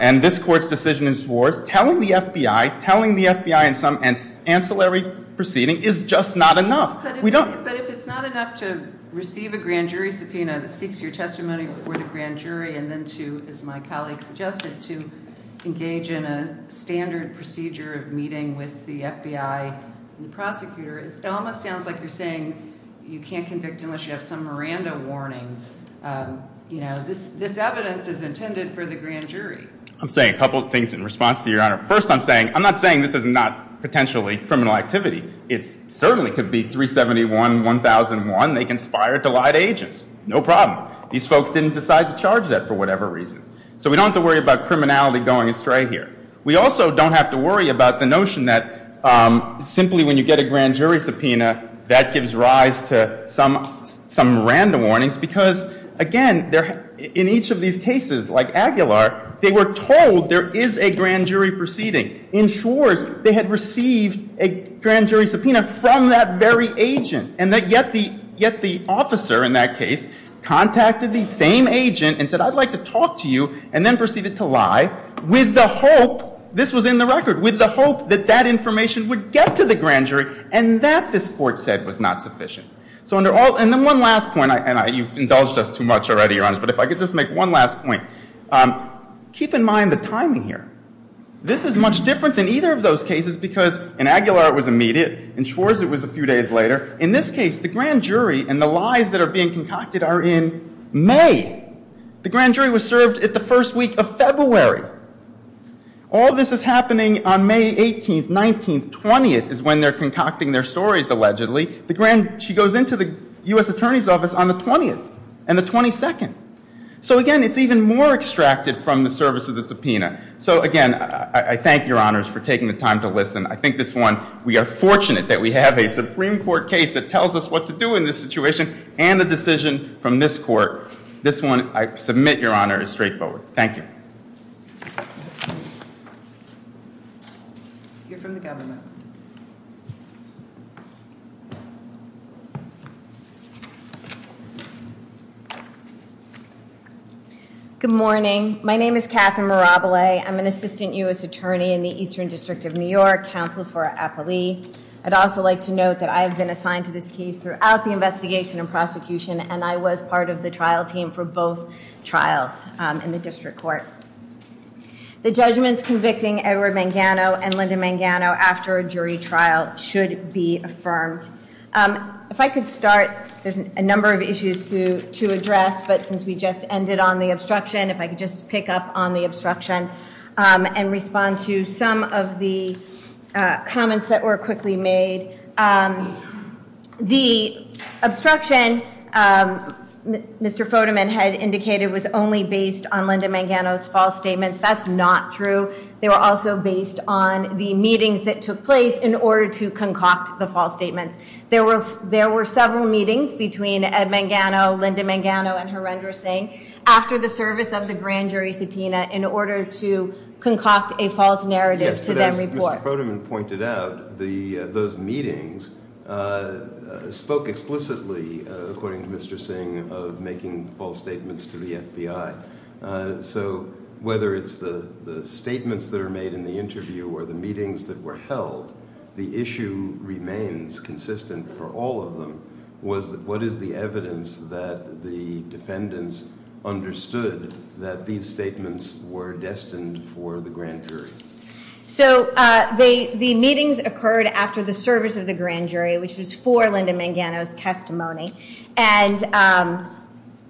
And this Court's decision is for telling the FBI, telling the FBI in some ancillary proceeding is just not enough. We don't. But if it's not enough to receive a grand jury subpoena that speaks to your testimony before the grand jury, and then to, as my colleague suggested, to engage in a standard procedure of meeting with the FBI prosecutor, it almost sounds like you're saying you can't convict unless you have some Miranda warning. This evidence is intended for the grand jury. I'm saying a couple of things in response to your Honor. First, I'm saying, I'm not saying this is not potentially criminal activity. It certainly could be 371-1001. They conspired to lie to agents. No problem. These folks didn't decide to charge that for whatever reason. So we don't have to worry about criminality going astray here. We also don't have to worry about the notion that simply when you get a grand jury subpoena, that gives rise to some Miranda warnings. Because, again, in each of these cases, like Aguilar, they were told there is a grand jury proceeding. In Schwartz, they had received a grand jury subpoena from that very agent. And yet the officer in that case contacted the same agent and said, I'd like to talk to you, and then proceeded to lie with the hope, this was in the record, with the hope that that information would get to the grand jury. And that, this court said, was not sufficient. So under all, and then one last point, and you've indulged us too much already, Your Honor, but if I could just make one last point. Keep in mind the timing here. This is much different than either of those cases, because in Aguilar it was immediate, in Schwartz it was a few days later. In this case, the grand jury and the lies that are being concocted are in May. The grand jury was served in the first week of February. All this is happening on May 18th, 19th, 20th is when they're concocting their stories, the grand, she goes into the U.S. Attorney's Office on the 20th, and the 22nd. So again, it's even more extracted from the service of the subpoena. So again, I thank Your Honor for taking the time to listen. I think this one, we are fortunate that we have a Supreme Court case that tells us what to do in this situation, and a decision from this court. This one, I submit, Your Honor, is straightforward. Thank you. You're from the government. Good morning. My name is Katherine Mirabile. I'm an Assistant U.S. Attorney in the Eastern District of New York, counsel for our affilee. I'd also like to note that I have been assigned to this case throughout the investigation and prosecution, and I was part of the trial team for both trials in the district court. The judgments convicting Edward Mangano and Linda Mangano after a jury trial should be affirmed. If I could start, there's a number of issues to address, but since we just ended on the obstruction, if I could just pick up on the obstruction and respond to some of the comments that were quickly made. The obstruction, Mr. Fodeman had indicated, was only based on Linda Mangano's false statements. That's not true. They were also based on the meetings that took place in order to concoct the false statement. There were several meetings between Ed Mangano, Linda Mangano, and Harendra Singh after the service of the grand jury subpoena in order to concoct a false narrative to them. Mr. Fodeman pointed out those meetings spoke explicitly, according to Mr. Singh, of making false statements to the FBI. Whether it's the statements that are made in the interview or the meetings that were held, the issue remains consistent for all of them. What is the evidence that the defendants understood that these statements were destined for the grand jury? The meetings occurred after the service of the grand jury, which is for Linda Mangano's testimony, and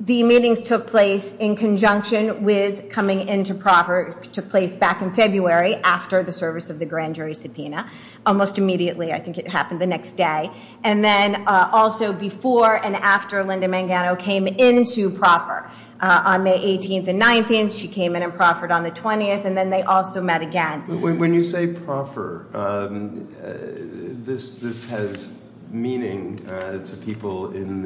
the meetings took place in conjunction with coming into proffer, took place back in February after the service of the grand jury subpoena. Almost immediately, I think it happened the next day. And then also before and after Linda Mangano came into proffer on May 18th and 19th, she came in and proffered on the 20th, and then they also met again. When you say proffer, this has meaning to people in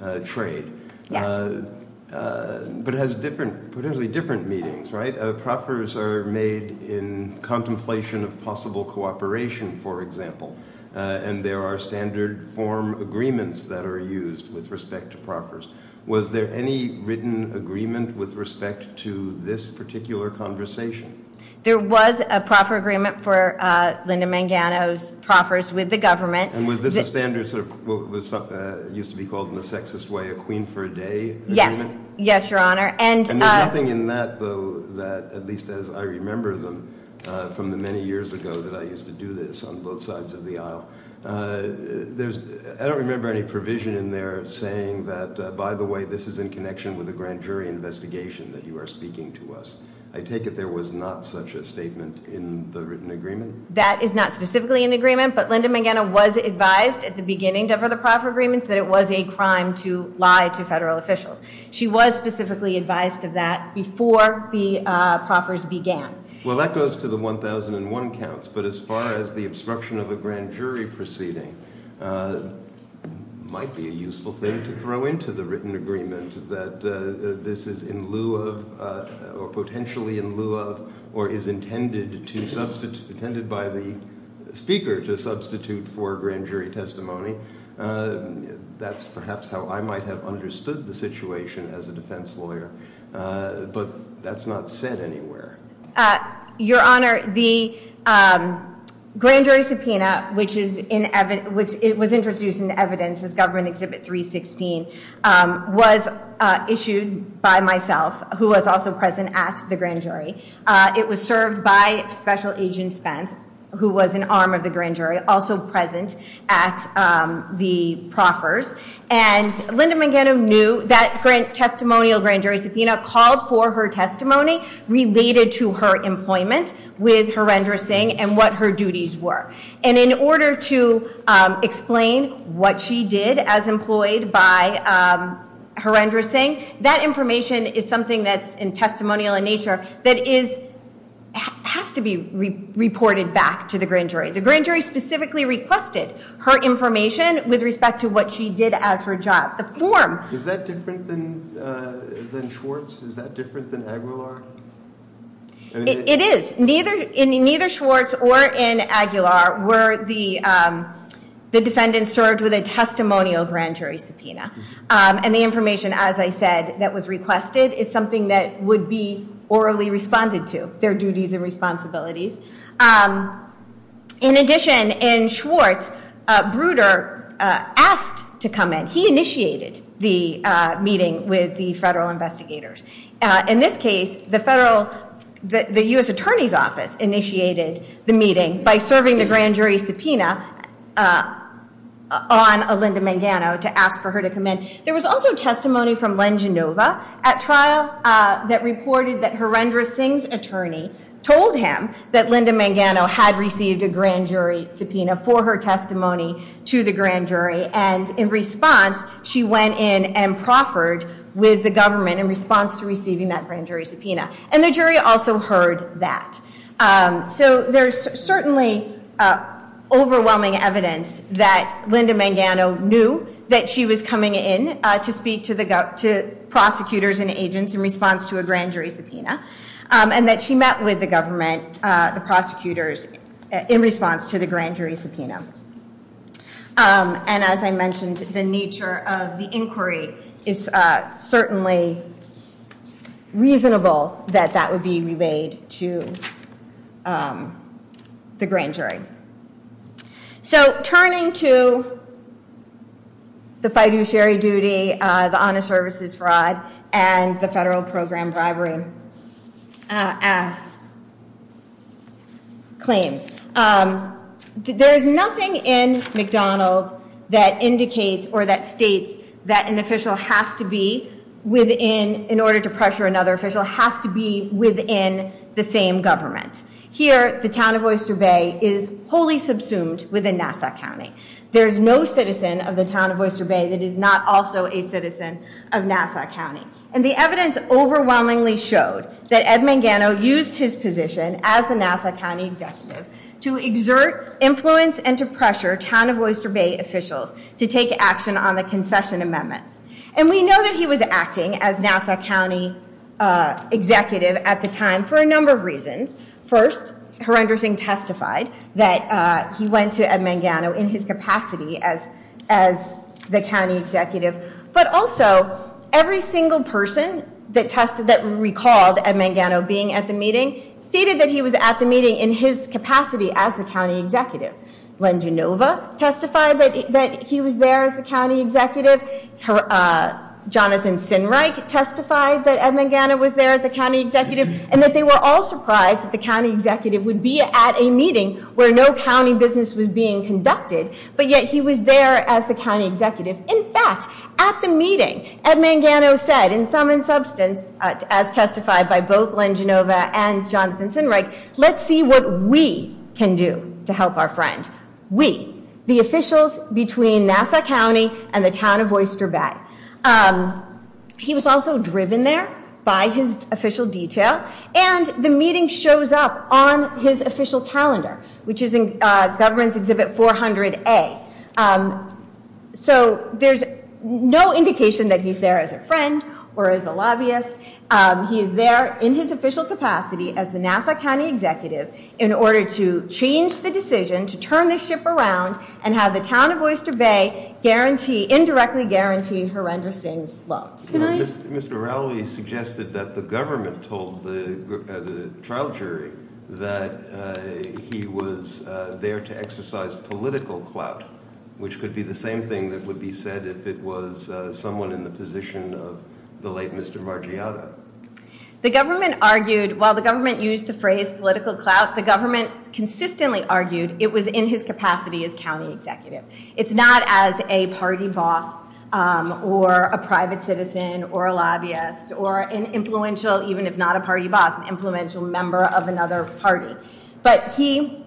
the trade, but has potentially different meanings, right? Proffers are made in contemplation of possible cooperation, for example, and there are standard form agreements that are used with respect to proffers. Was there any written agreement with respect to this particular conversation? There was a proffer agreement for Linda Mangano's proffers with the government. And was this a standard, what used to be called in the sexist way, a queen for a day? Yes, yes, your honor. And the only thing in that, though, that at least as I remember them from the many years ago that I used to do this on both sides of the aisle, I don't remember any provision in there saying that, by the way, this is in connection with a grand jury investigation that you are speaking to us. I take it there was not such a statement in the written agreement? That is not specifically in the agreement, but Linda Mangano was advised at the beginning of the proffer agreement that it was a crime to lie to federal officials. She was specifically advised of that before the proffers began. Well, that goes to the 1001 counts, but as far as the obstruction of a grand jury proceeding, it might be a useful thing to throw into the written agreement that this is in lieu of, or potentially in lieu of, or is intended by the speaker to substitute for grand jury testimony. That's perhaps how I might have understood the situation as a defense lawyer, but that's not said anywhere. Your Honor, the grand jury subpoena, which was introduced in evidence as government exhibit 316, was issued by myself, who was also present at the grand jury. It was served by Special Agent Spence, who was an arm of the grand jury, also present at the proffers, and Linda Mangano knew that testimonial grand jury subpoena called for her testimony related to her employment with horrendous thing and what her duties were, and in order to explain what she did as employed by horrendous thing, that information is something that's in testimonial in nature that has to be reported back to the grand jury. The grand jury specifically requested her information with respect to what she did as her job. Is that different than Schwartz? Is that different than Aguilar? It is. Neither Schwartz or in Aguilar were the defendants served with a testimonial grand jury subpoena, and the information, as I said, that was requested is something that would be orally responded to, their duties and responsibilities. In addition, in Schwartz, Bruder asked to come in. He initiated the meeting with the federal investigators. In this case, the federal, the U.S. Attorney's Office initiated the meeting by serving the grand jury subpoena on Linda Mangano to ask for her to come in. There was also testimony from Len Genova at trial that reported that horrendous thing's attorney told him that Linda Mangano had received a grand jury subpoena for her testimony to the grand jury, and in response, she went in and proffered with the government in response to receiving that grand jury subpoena. The jury also heard that. There's certainly overwhelming evidence that Linda Mangano knew that she was coming in to speak to prosecutors and agents in response to a grand jury subpoena, and that she met with the government, the prosecutors, in response to the grand jury subpoena. And as I mentioned, the nature of the inquiry is certainly reasonable that that would be relayed to the grand jury. So turning to the fighting sherry duty, the honest services fraud, and the federal program bribery claims, there's nothing in McDonald's that indicates or that states that an official has to be within, in order to pressure another official, has to be within the same government. Here, the town of Worcester Bay is wholly subsumed within Nassau County. There's no citizen of the town of Worcester Bay that is not also a citizen of Nassau County. And the evidence overwhelmingly showed that Ed Mangano used his position as the Nassau County executive to exert influence and to pressure town of Worcester Bay officials to take action on the concession amendment. And we know that he was acting as Nassau County executive at the time for a number of reasons. First, Herenderson testified that he went to Ed Mangano in his capacity as the county executive. But also, every single person that recalled Ed Mangano being at the meeting stated that he was at the meeting in his capacity as the county executive. Len Genova testified that he was there as the county executive. Jonathan Sinright testified that they were all surprised that the county executive would be at a meeting where no county business was being conducted. But yet, he was there as the county executive. In fact, at the meeting, Ed Mangano said, in sum and substance, as testified by both Len Genova and Jonathan Sinright, let's see what we can do to help our friends. We, the officials between Nassau County and the town of Worcester Bay. He was also driven there by his official detail. And the meeting shows up on his official calendar, which is in government exhibit 400A. So there's no indication that he's there as a friend or as a lobbyist. He is there in his official capacity as the Nassau County executive in order to change the decision to turn the ship around and have the town of indirectly guarantee horrendous things. Mr. Rowley suggested that the government told the trial jury that he was there to exercise political clout, which could be the same thing that would be said if it was someone in the position of the late Mr. Margiotto. The government argued, while the government used the phrase political clout, the government consistently argued it was in his capacity as county executive. It's not as a party boss or a private citizen or a lobbyist or an influential, even if not a party boss, influential member of another party. But he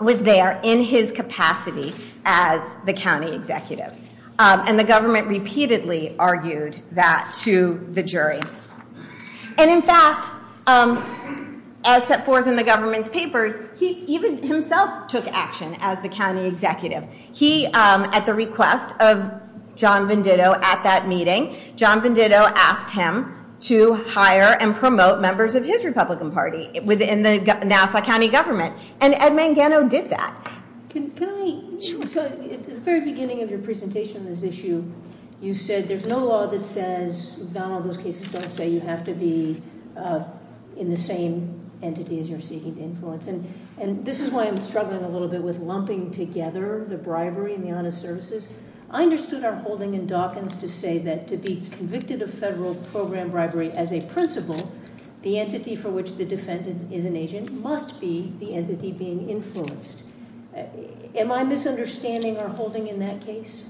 was there in his capacity as the county executive. And the government repeatedly argued that to the jury. And in fact, as set forth in the government's papers, he even himself took action as the county executive. He, at the request of John Venditto at that meeting, John Venditto asked him to hire and promote members of his Republican Party within the Nassau County government. And Ed Mangano did that. At the very beginning of your presentation on this issue, you said there's no law that says you have to be in the same entity as you're seeking influence. And this is why I'm struggling a little bit with lumping together the bribery and the amount of services. I understood our holding in Dawkins to say that to be convicted of federal program bribery as a principle, the entity for which the defendant is an agent must be the entity being influenced. Am I misunderstanding our holding in that case?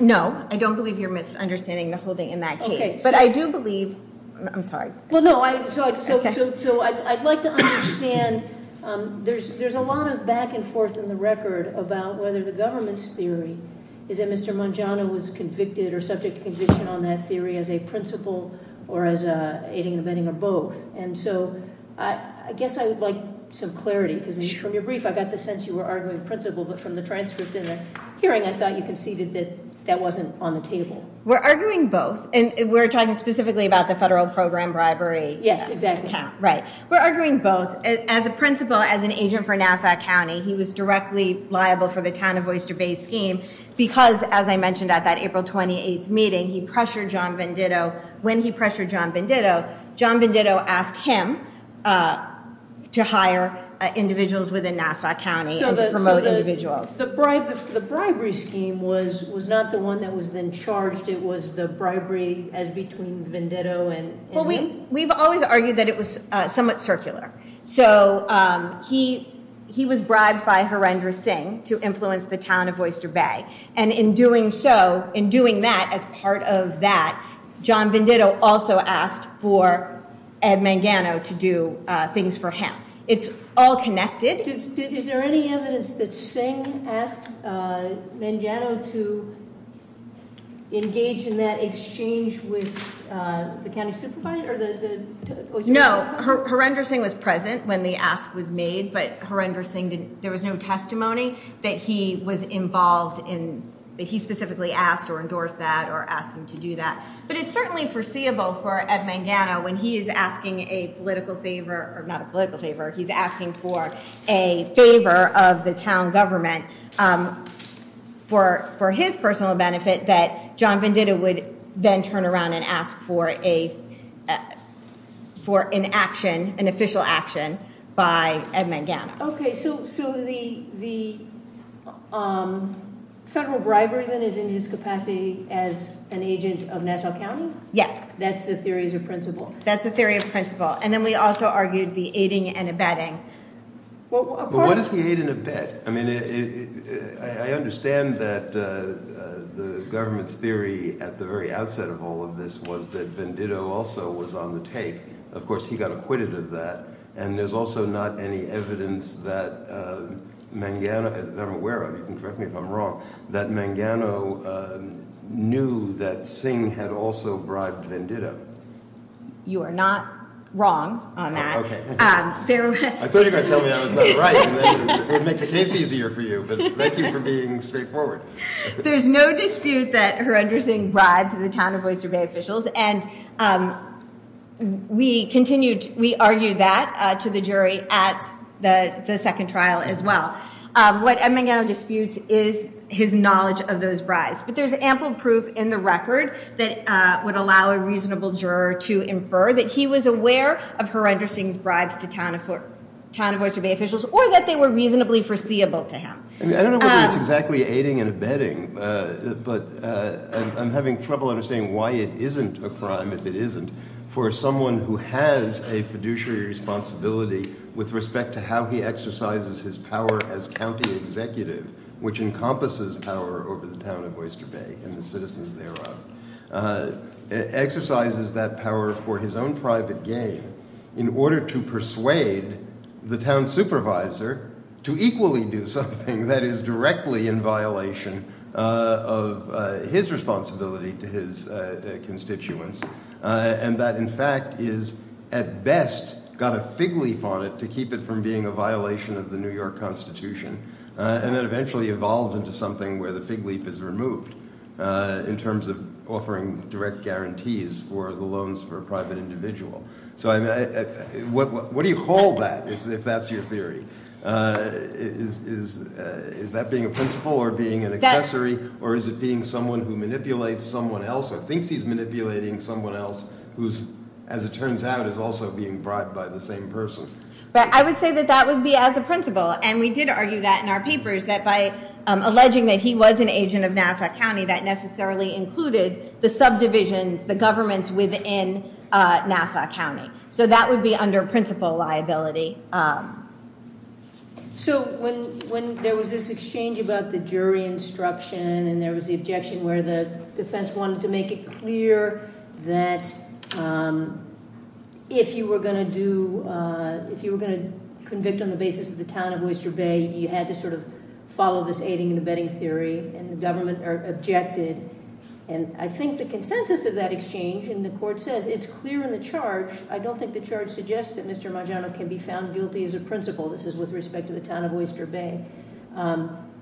No, I don't believe you're misunderstanding the holding in that case. But I do believe, I'm sorry. Well, no, so I'd like to understand, there's a lot of back and forth in the record about whether the government's theory is that Mr. Mangano was convicted or subject to conviction on that theory as a principle or as aiding and abetting of both. And so I guess I would like some clarity because from your brief, I got the sense you were arguing principle, but from the transcript in the hearing, I thought you conceded that that wasn't on the table. We're arguing both. And we're talking specifically about the federal program bribery. Yes, that counts. Right. We're arguing both. As a principle, as an agent for Nassau County, he was directly liable for the town of Oyster Bay scheme because, as I mentioned at that April 28th meeting, he pressured John Venditto. When he pressured John Venditto, John Venditto asked him to hire individuals within Nassau County to promote individuals. So the bribery scheme was not the one that was then charged. It was the bribery as between Venditto and... Well, we've always argued that it was somewhat circular. So he was bribed by Harinder Singh to influence the town of Oyster Bay. And in doing so, in doing that, as part of that, John Venditto also asked for Ed Mangano to do things for him. It's all connected. Is there any evidence that Singh asked Mangano to engage in that exchange with the county supervisor? No. Harinder Singh was present when the ask was made, but Harinder Singh, there was no testimony that he was involved in... that he specifically asked or endorsed that or asked him to do that. But it's certainly foreseeable for Ed Mangano when he is asking a political favor, or not a political favor, he's asking for a favor of the town government for his personal benefit that John Venditto would then turn around and ask for an action, an official action by Ed Mangano. Okay. So the federal bribery is in his capacity as an agent of Nassau County? Yes. That's the theories of principle? That's the theory of principle. And then we also argued the aiding and abetting. Well, what is the aid and abet? I mean, I understand that the government's theory at the very outset of all of this was that Venditto also was on the tape. Of course, he got acquitted of that. And there's also not any evidence that Mangano, if I'm aware of, you can correct me if I'm wrong, that Mangano knew that Singh had also bribed Venditto. You are not wrong on that. Okay. I thought you were going to tell me that was not right. It makes it easier for you, but it makes it for getting straight forward. There's no dispute that Harinder Singh bribed the town of Oyster Bay officials. And we argued that to the jury at the second trial as well. What Mangano disputes is his knowledge of those bribes. But there's ample proof in the record that would allow a reasonable juror to infer that he was aware of Harinder Singh's bribes to town of Oyster Bay officials, or that they were reasonably foreseeable to him. I don't know what exactly aiding and abetting, but I'm having trouble understanding why it for someone who has a fiduciary responsibility with respect to how he exercises his power as county executive, which encompasses power over the town of Oyster Bay and the citizens thereof, exercises that power for his own private gain in order to persuade the town supervisor to equally do something that is directly in violation of his responsibility to his constituents. And that, in fact, is at best got a fig leaf on it to keep it from being a violation of the New York Constitution, and then eventually evolved into something where the fig leaf is removed in terms of offering direct guarantees for the loans for private individual. So what do you call that, if that's your theory? Is that being a principle or being an accessory, or is it being someone who manipulates someone else, or thinks he's manipulating someone else, who's, as it turns out, is also being bribed by the same person? But I would say that that would be as a principle, and we did argue that in our papers that by alleging that he was an agent of Nassau County, that necessarily included the subdivisions, the governments within Nassau County. So that would be under principle liability. So when there was this exchange about the jury instruction, and there was the objection where the defense wanted to make it clear that if you were going to do, if you were going to convict on the basis of the talent of Mr. Bay, you had to sort of follow this aiding and abetting theory, and the government objected. And I think the consensus of that exchange, and the court said, it's clear in the charge. I don't think the charge suggests that Mr. Bay is found guilty as a principle. This is with respect to the talent of Mr. Bay,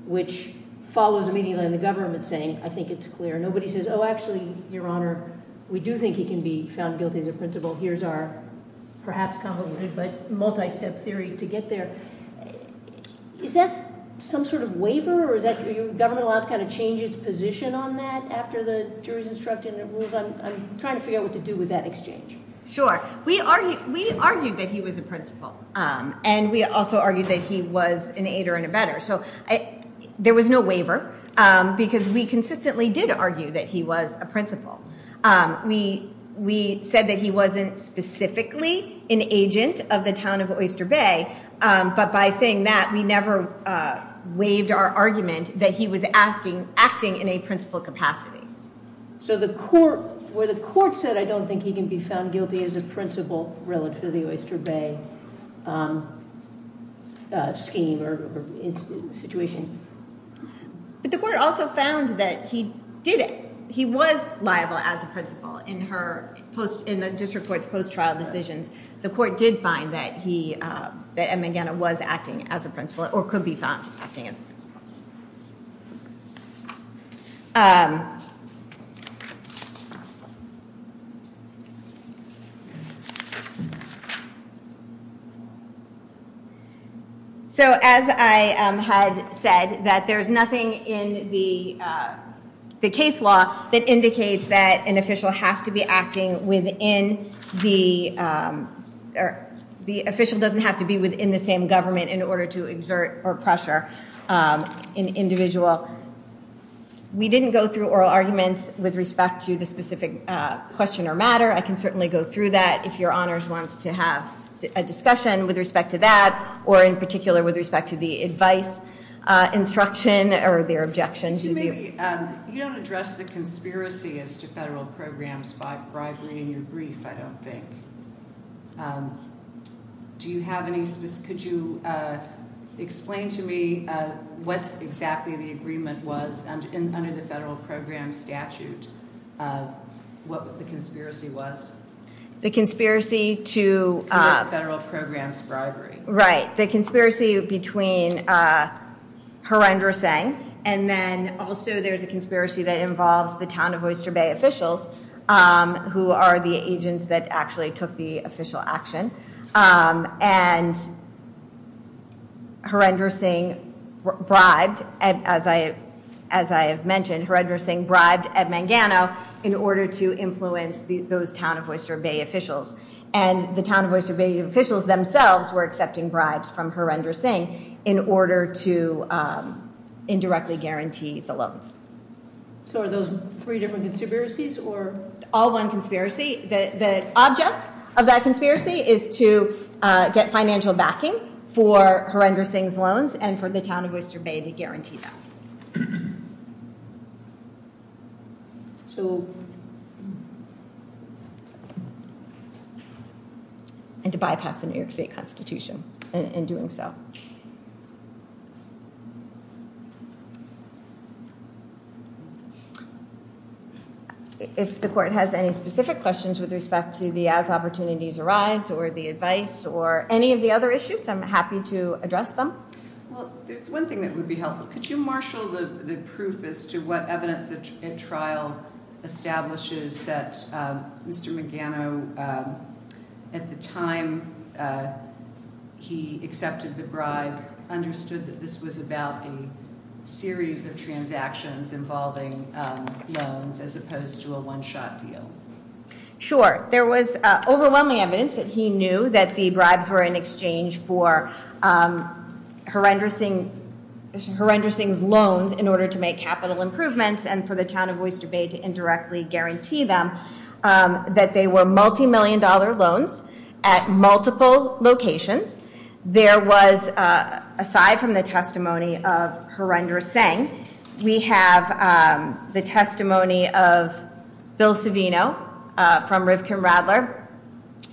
which follows immediately on the government saying, I think it's clear. Nobody says, oh, actually, your honor, we do think he can be found guilty as a principle. Here's our perhaps complicated, but multi-step theory to get there. Is that some sort of waiver, or is that the government law has kind of changed its position on that after the jury's instructed? I'm trying to figure out what to do with that exchange. Sure. We argued that he was a principle, and we also argued that he was an aider and abetter. So there was no waiver, because we consistently did argue that he was a principle. We said that he wasn't specifically an agent of the talent of Oyster Bay, but by saying that, we never waived our argument that he was acting in a principle capacity. So the court, where the court said, I don't think he can be found guilty as a principle relative to the Oyster Bay scheme or situation. But the court also found that he did it. He was liable as a principle in the district court's post-trial decision. The court did find that he was liable as a principle. So as I had said, that there's nothing in the case law that indicates that an official has to be acting within the, the official doesn't have to be within the same with respect to the specific question or matter. I can certainly go through that if your honors wants to have a discussion with respect to that, or in particular with respect to the advice instruction or their objections. You don't address the conspiracy as to federal programs by bribing in your brief, I don't think. Do you have any, could you explain to me what exactly the federal program statute, what the conspiracy was? The conspiracy to federal programs bribery. Right. The conspiracy between horrendous things. And then also there's a conspiracy that involves the town of Oyster Bay officials who are the agents that actually took the official action. And horrendous things, bribes, as I, as I have mentioned, horrendous things, bribes at Mangano in order to influence those town of Oyster Bay officials. And the town of Oyster Bay officials themselves were accepting bribes from horrendous things in order to indirectly guarantee the loan. So are those three different conspiracies or? All one conspiracy. The object of that conspiracy is to get financial backing for horrendous things loans and for the town of Oyster Bay to guarantee that. And to bypass the New York state constitution in doing so. Okay. If the court has any specific questions with respect to the as opportunities arise or the advice or any of the other issues, I'm happy to address them. Well, there's one thing that would be helpful. Could you marshal the proof as to what evidence the trial establishes that Mr. Mangano, at the time he accepted the bribe, understood that this was about a series of transactions involving loans as opposed to a one-shot deal? Sure. There was overwhelming evidence that he knew that the bribes were in exchange for horrendous things, horrendous things loans in order to make capital improvements and for the that they were multi-million dollar loans at multiple locations. There was, aside from the testimony of horrendous things, we have the testimony of Bill Savino from Rivkin Rattler,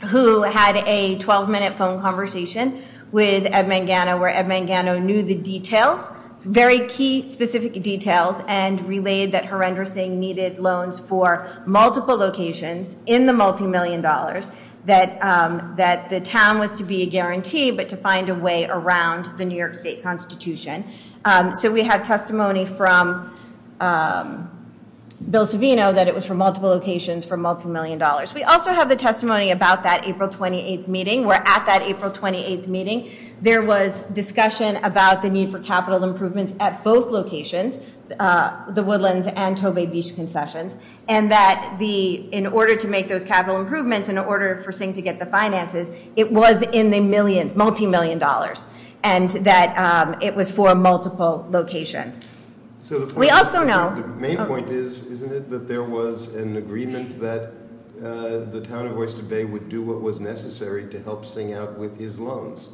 who had a 12-minute phone conversation with Ed Mangano, where Ed Mangano knew the details, very key specific details, and relayed that horrendous things needed loans for multiple locations in the multi-million dollars, that the town was to be guaranteed but to find a way around the New York state constitution. So we have testimony from Bill Savino that it was for multiple locations for multi-million dollars. We also have the testimony about that April 28th meeting. There was discussion about the need for capital improvements at both locations, the Woodlands and Tobay Beach concessions, and that in order to make those capital improvements, in order for Singh to get the finances, it was in the millions, multi-million dollars, and that it was for multiple locations. The main point is, isn't it, that there was an agreement that the town of Woodlands and Tobay Beach would do what was necessary to help Singh out with his loans?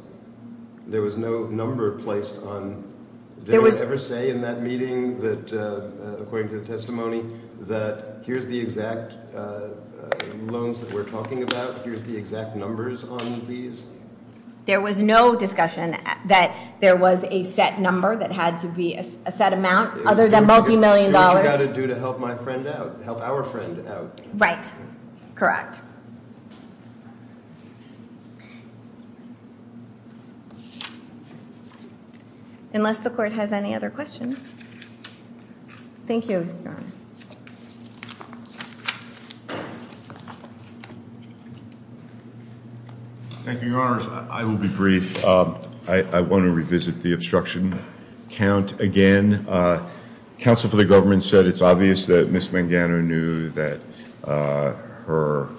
There was no number placed on, did they ever say in that meeting that, according to the testimony, that here's the exact loans that we're talking about, here's the exact numbers on these? There was no discussion that there was a set number that had to be a set amount other than right. Correct. Unless the court has any other questions. Thank you. Thank you, your honors. I will be brief. I want to revisit the obstruction count again. Counsel for the government said it's obvious that Ms. Mangano knew that her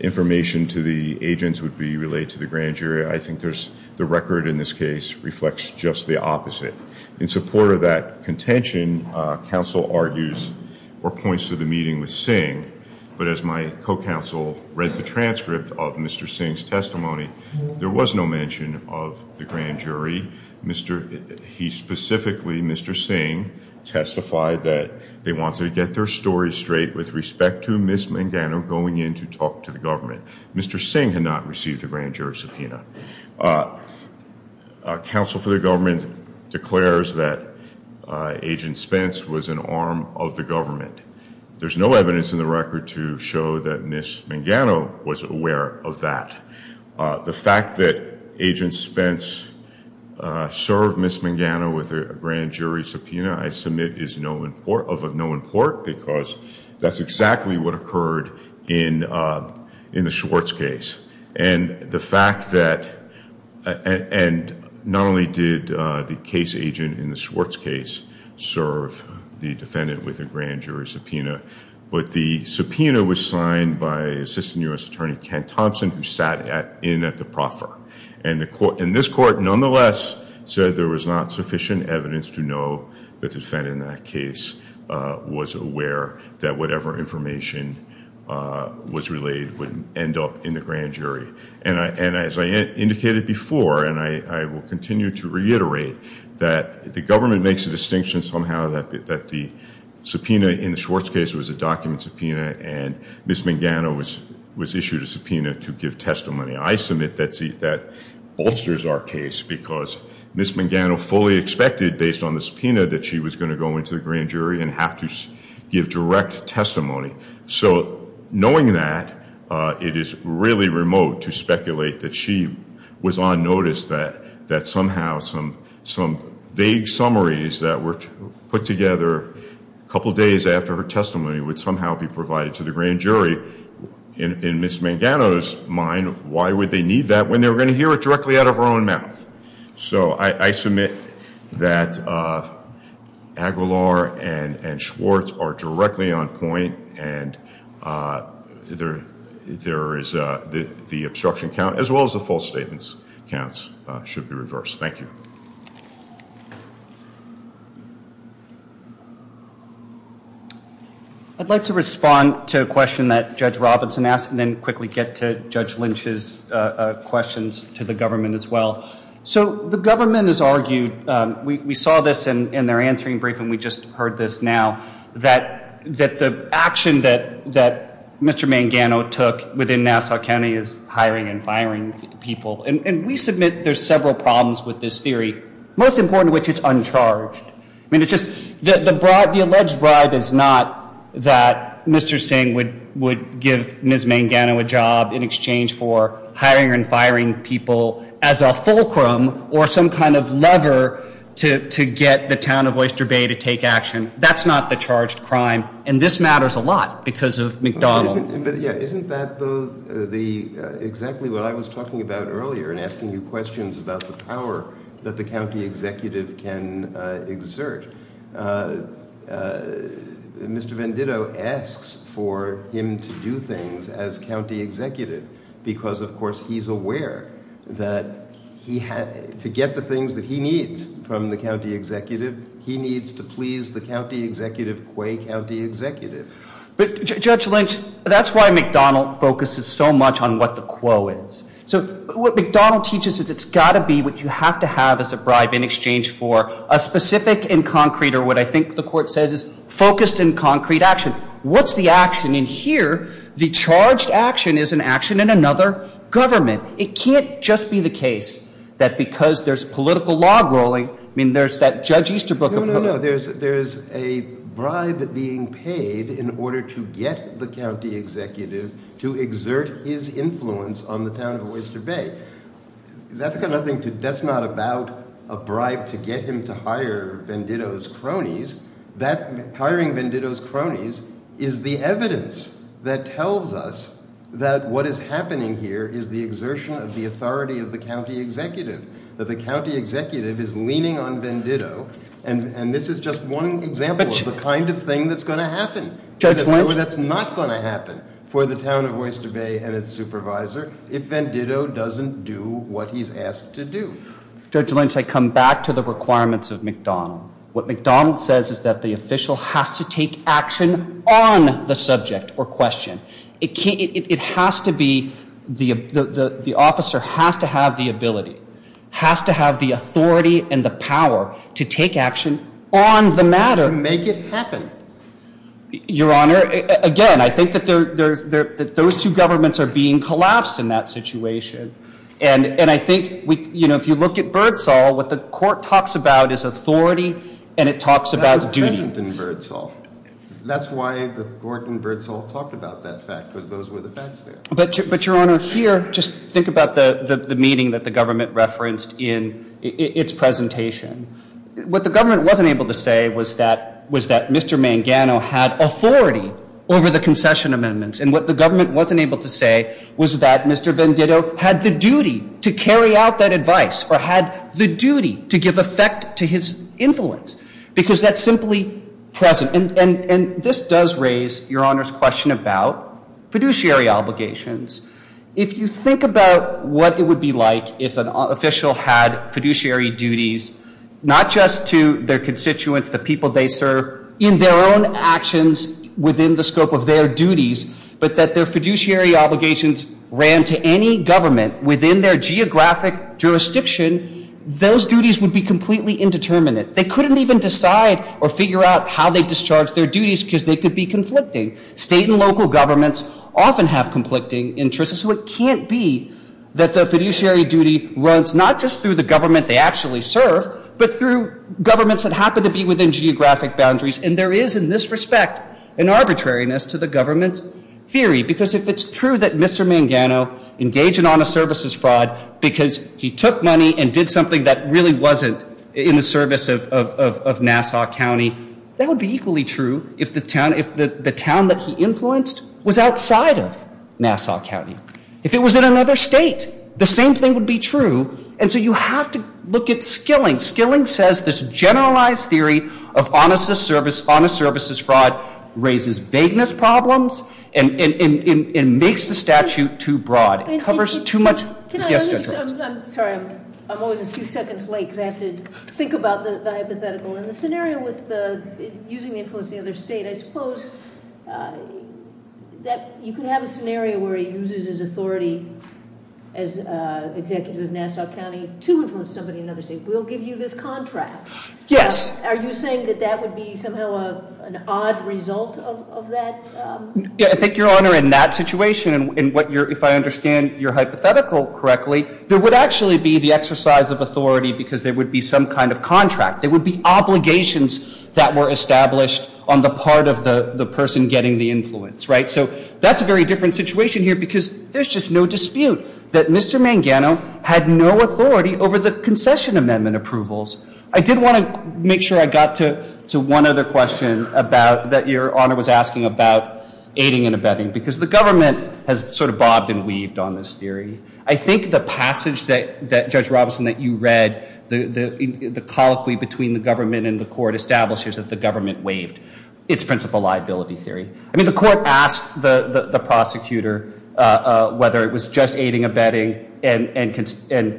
information to the agents would be relayed to the grand jury. I think there's the record in this case reflects just the opposite. In support of that contention, counsel argues or points to the meeting with Singh, but as my co-counsel read the transcript of Mr. Singh's testimony, there was no mention of the grand jury. He specifically, Mr. Singh, testified that they wanted to get their story straight with respect to Ms. Mangano going in to talk to the government. Mr. Singh had not received a grand jury subpoena. Counsel for the government declares that Agent Spence was an arm of the government. There's no evidence in the record to show that Ms. Mangano was aware of that. The fact that Agent Spence served Ms. Mangano with a grand jury subpoena I submit is of no import because that's exactly what occurred in the Schwartz case. Not only did the case agent in the Schwartz case serve the defendant with a grand jury subpoena, but the subpoena was signed by Assistant U.S. Attorney Ken Thompson, who sat in at the proffer. This court, nonetheless, said there was not sufficient evidence to know the defendant in that case was aware that whatever information was relayed would end up in the grand jury. As I indicated before, and I will continue to reiterate, that the government makes a distinction somehow that the subpoena in the was issued a subpoena to give testimony. I submit that that bolsters our case because Ms. Mangano fully expected, based on the subpoena, that she was going to go into the grand jury and have to give direct testimony. So knowing that, it is really remote to speculate that she was on notice that somehow some vague summaries that were put together a couple days after her testimony would somehow be provided to the grand jury. In Ms. Mangano's mind, why would they need that when they're going to hear it directly out of her own mouth? So I submit that Aguilar and Schwartz are directly on point and the obstruction count, as well as the false statements counts, should be reversed. Thank you. I'd like to respond to a question that Judge Robinson asked and then quickly get to Judge Lynch's questions to the government as well. So the government has argued, we saw this in their answering brief and we just heard this now, that the action that Mr. Mangano took within several problems with this theory, most important of which it's uncharged. I mean, it's just the alleged bribe is not that Mr. Singh would give Ms. Mangano a job in exchange for hiring and firing people as a fulcrum or some kind of lever to get the town of Oyster Bay to take action. That's not the charged crime and this matters a lot because of McDonald. Isn't that exactly what I was talking about earlier and asking you questions about the power that the county executive can exert? Mr. Venditto asks for him to do things as county executive because, of course, he's aware that he had to get the things that he needs from the county executive. He needs to please the county executive, Quay County Executive. But Judge Lynch, that's why McDonald focuses so much on what the what McDonald teaches is it's got to be what you have to have as a bribe in exchange for a specific and concrete or what I think the court says is focused and concrete action. What's the action in here? The charged action is an action in another government. It can't just be the case that because there's political log rolling, I mean, there's that Judge Easterbrook. There's a bribe being paid in order to get the county executive to exert his influence on the state. That's not about a bribe to get him to hire Venditto's cronies. Hiring Venditto's cronies is the evidence that tells us that what is happening here is the exertion of the authority of the county executive. That the county executive is leaning on Venditto and this is just one example of the kind of thing that's going to happen. That's not going to happen for the town and its supervisor if Venditto doesn't do what he's asked to do. Judge Lynch, I come back to the requirements of McDonald. What McDonald says is that the official has to take action on the subject or question. It can't, it has to be, the officer has to have the ability, has to have the authority and the power to take action on the matter. To make it happen. Your honor, again, I think that those two governments are being collapsed in that situation and I think if you look at Birdsall, what the court talks about is authority and it talks about duty. That's why the court in Birdsall talked about that fact, that those were the facts there. But your honor, here, just think about the meeting that the government referenced in its presentation. What the government wasn't able to say was that Mr. Mangano had authority over the concession amendments and what the government wasn't able to say was that Mr. Venditto had the duty to carry out that advice or had the duty to give effect to his influence because that's simply present and this does raise your honor's question about fiduciary obligations. If you think about what it would be like if an official had fiduciary duties, not just to their constituents, the people they serve, in their own actions within the scope of their duties, but that their fiduciary obligations ran to any government within their geographic jurisdiction, those duties would be completely indeterminate. They couldn't even decide or figure out how they discharged their duties because they could be conflicting. State and local governments often have conflicting interests. So it can't be that the fiduciary duty runs not just through the government they actually serve, but through governments that happen to be within geographic boundaries. And there is, in this respect, an arbitrariness to the government's theory because if it's true that Mr. Mangano engaged in honor services fraud because he took money and did something that really wasn't in the service of Nassau County, that would be equally true if the town that he was in was in Nassau County. If it was in another state, the same thing would be true. And so you have to look at Skilling. Skilling says this generalized theory of honor services fraud raises vagueness problems and makes the statute too broad. It covers too much. I'm always a few seconds late because I have to think about the hypothetical. In the scenario using the influence of the other state, I suppose you can have a scenario where he uses his authority as an executive of Nassau County to influence somebody in another state. We'll give you this contract. Yes. Are you saying that that would be somehow an odd result of that? Yeah, I think your honor, in that situation, if I understand your hypothetical correctly, there would actually be the exercise of authority because there would be some kind of contract. There would be obligations that were established on the part of the person getting the influence, right? So that's a very different situation here because there's just no dispute that Mr. Mangano had no authority over the concession amendment approvals. I did want to make sure I got to one other question about that your honor was asking about aiding and abetting because the government has sort of bobbed and weaved on this theory. I think the passage that Judge Robinson, that you the government and the court establishes that the government waived its principle liability theory. I mean the court asked the prosecutor whether it was just aiding abetting and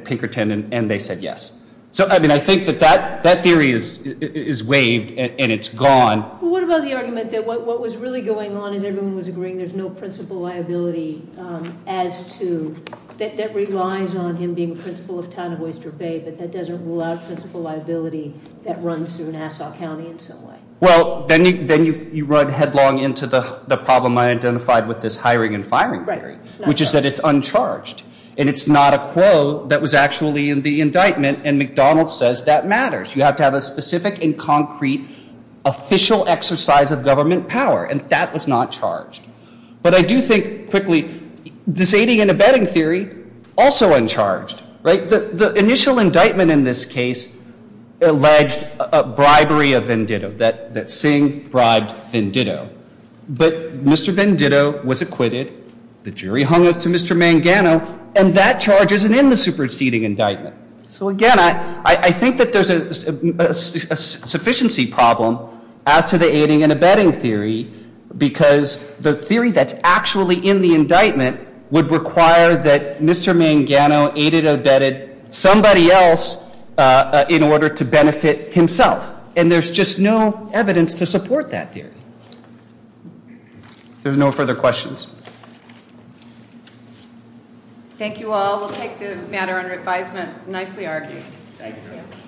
Pinkerton and they said yes. So I mean I think that that theory is waived and it's gone. What about the argument that what was really going on in the room was agreeing there's no principle liability as to that relies on him being principal of town of Worcester Bay, but that doesn't allow principle liability that runs through Nassau County in some way? Well then you run headlong into the problem I identified with this hiring and firing theory, which is that it's uncharged and it's not a quo that was actually in the indictment and McDonald says that matters. You have to have a specific and concrete official exercise of government power and that was not charged. But I do think quickly this aiding and abetting theory also uncharged, right? The initial indictment in this case alleged a bribery of Venditto, that that Singh bribed Venditto, but Mr. Venditto was acquitted, the jury hung up to Mr. Mangano and that charges in the superseding indictment. So again I think that there's a sufficiency problem as to the aiding and abetting theory because the theory that's actually in the indictment would require that Mr. Mangano aided abetted somebody else in order to benefit himself and there's just no evidence to support that here. There's no further questions. Thank you all. We'll take the matter under advisement.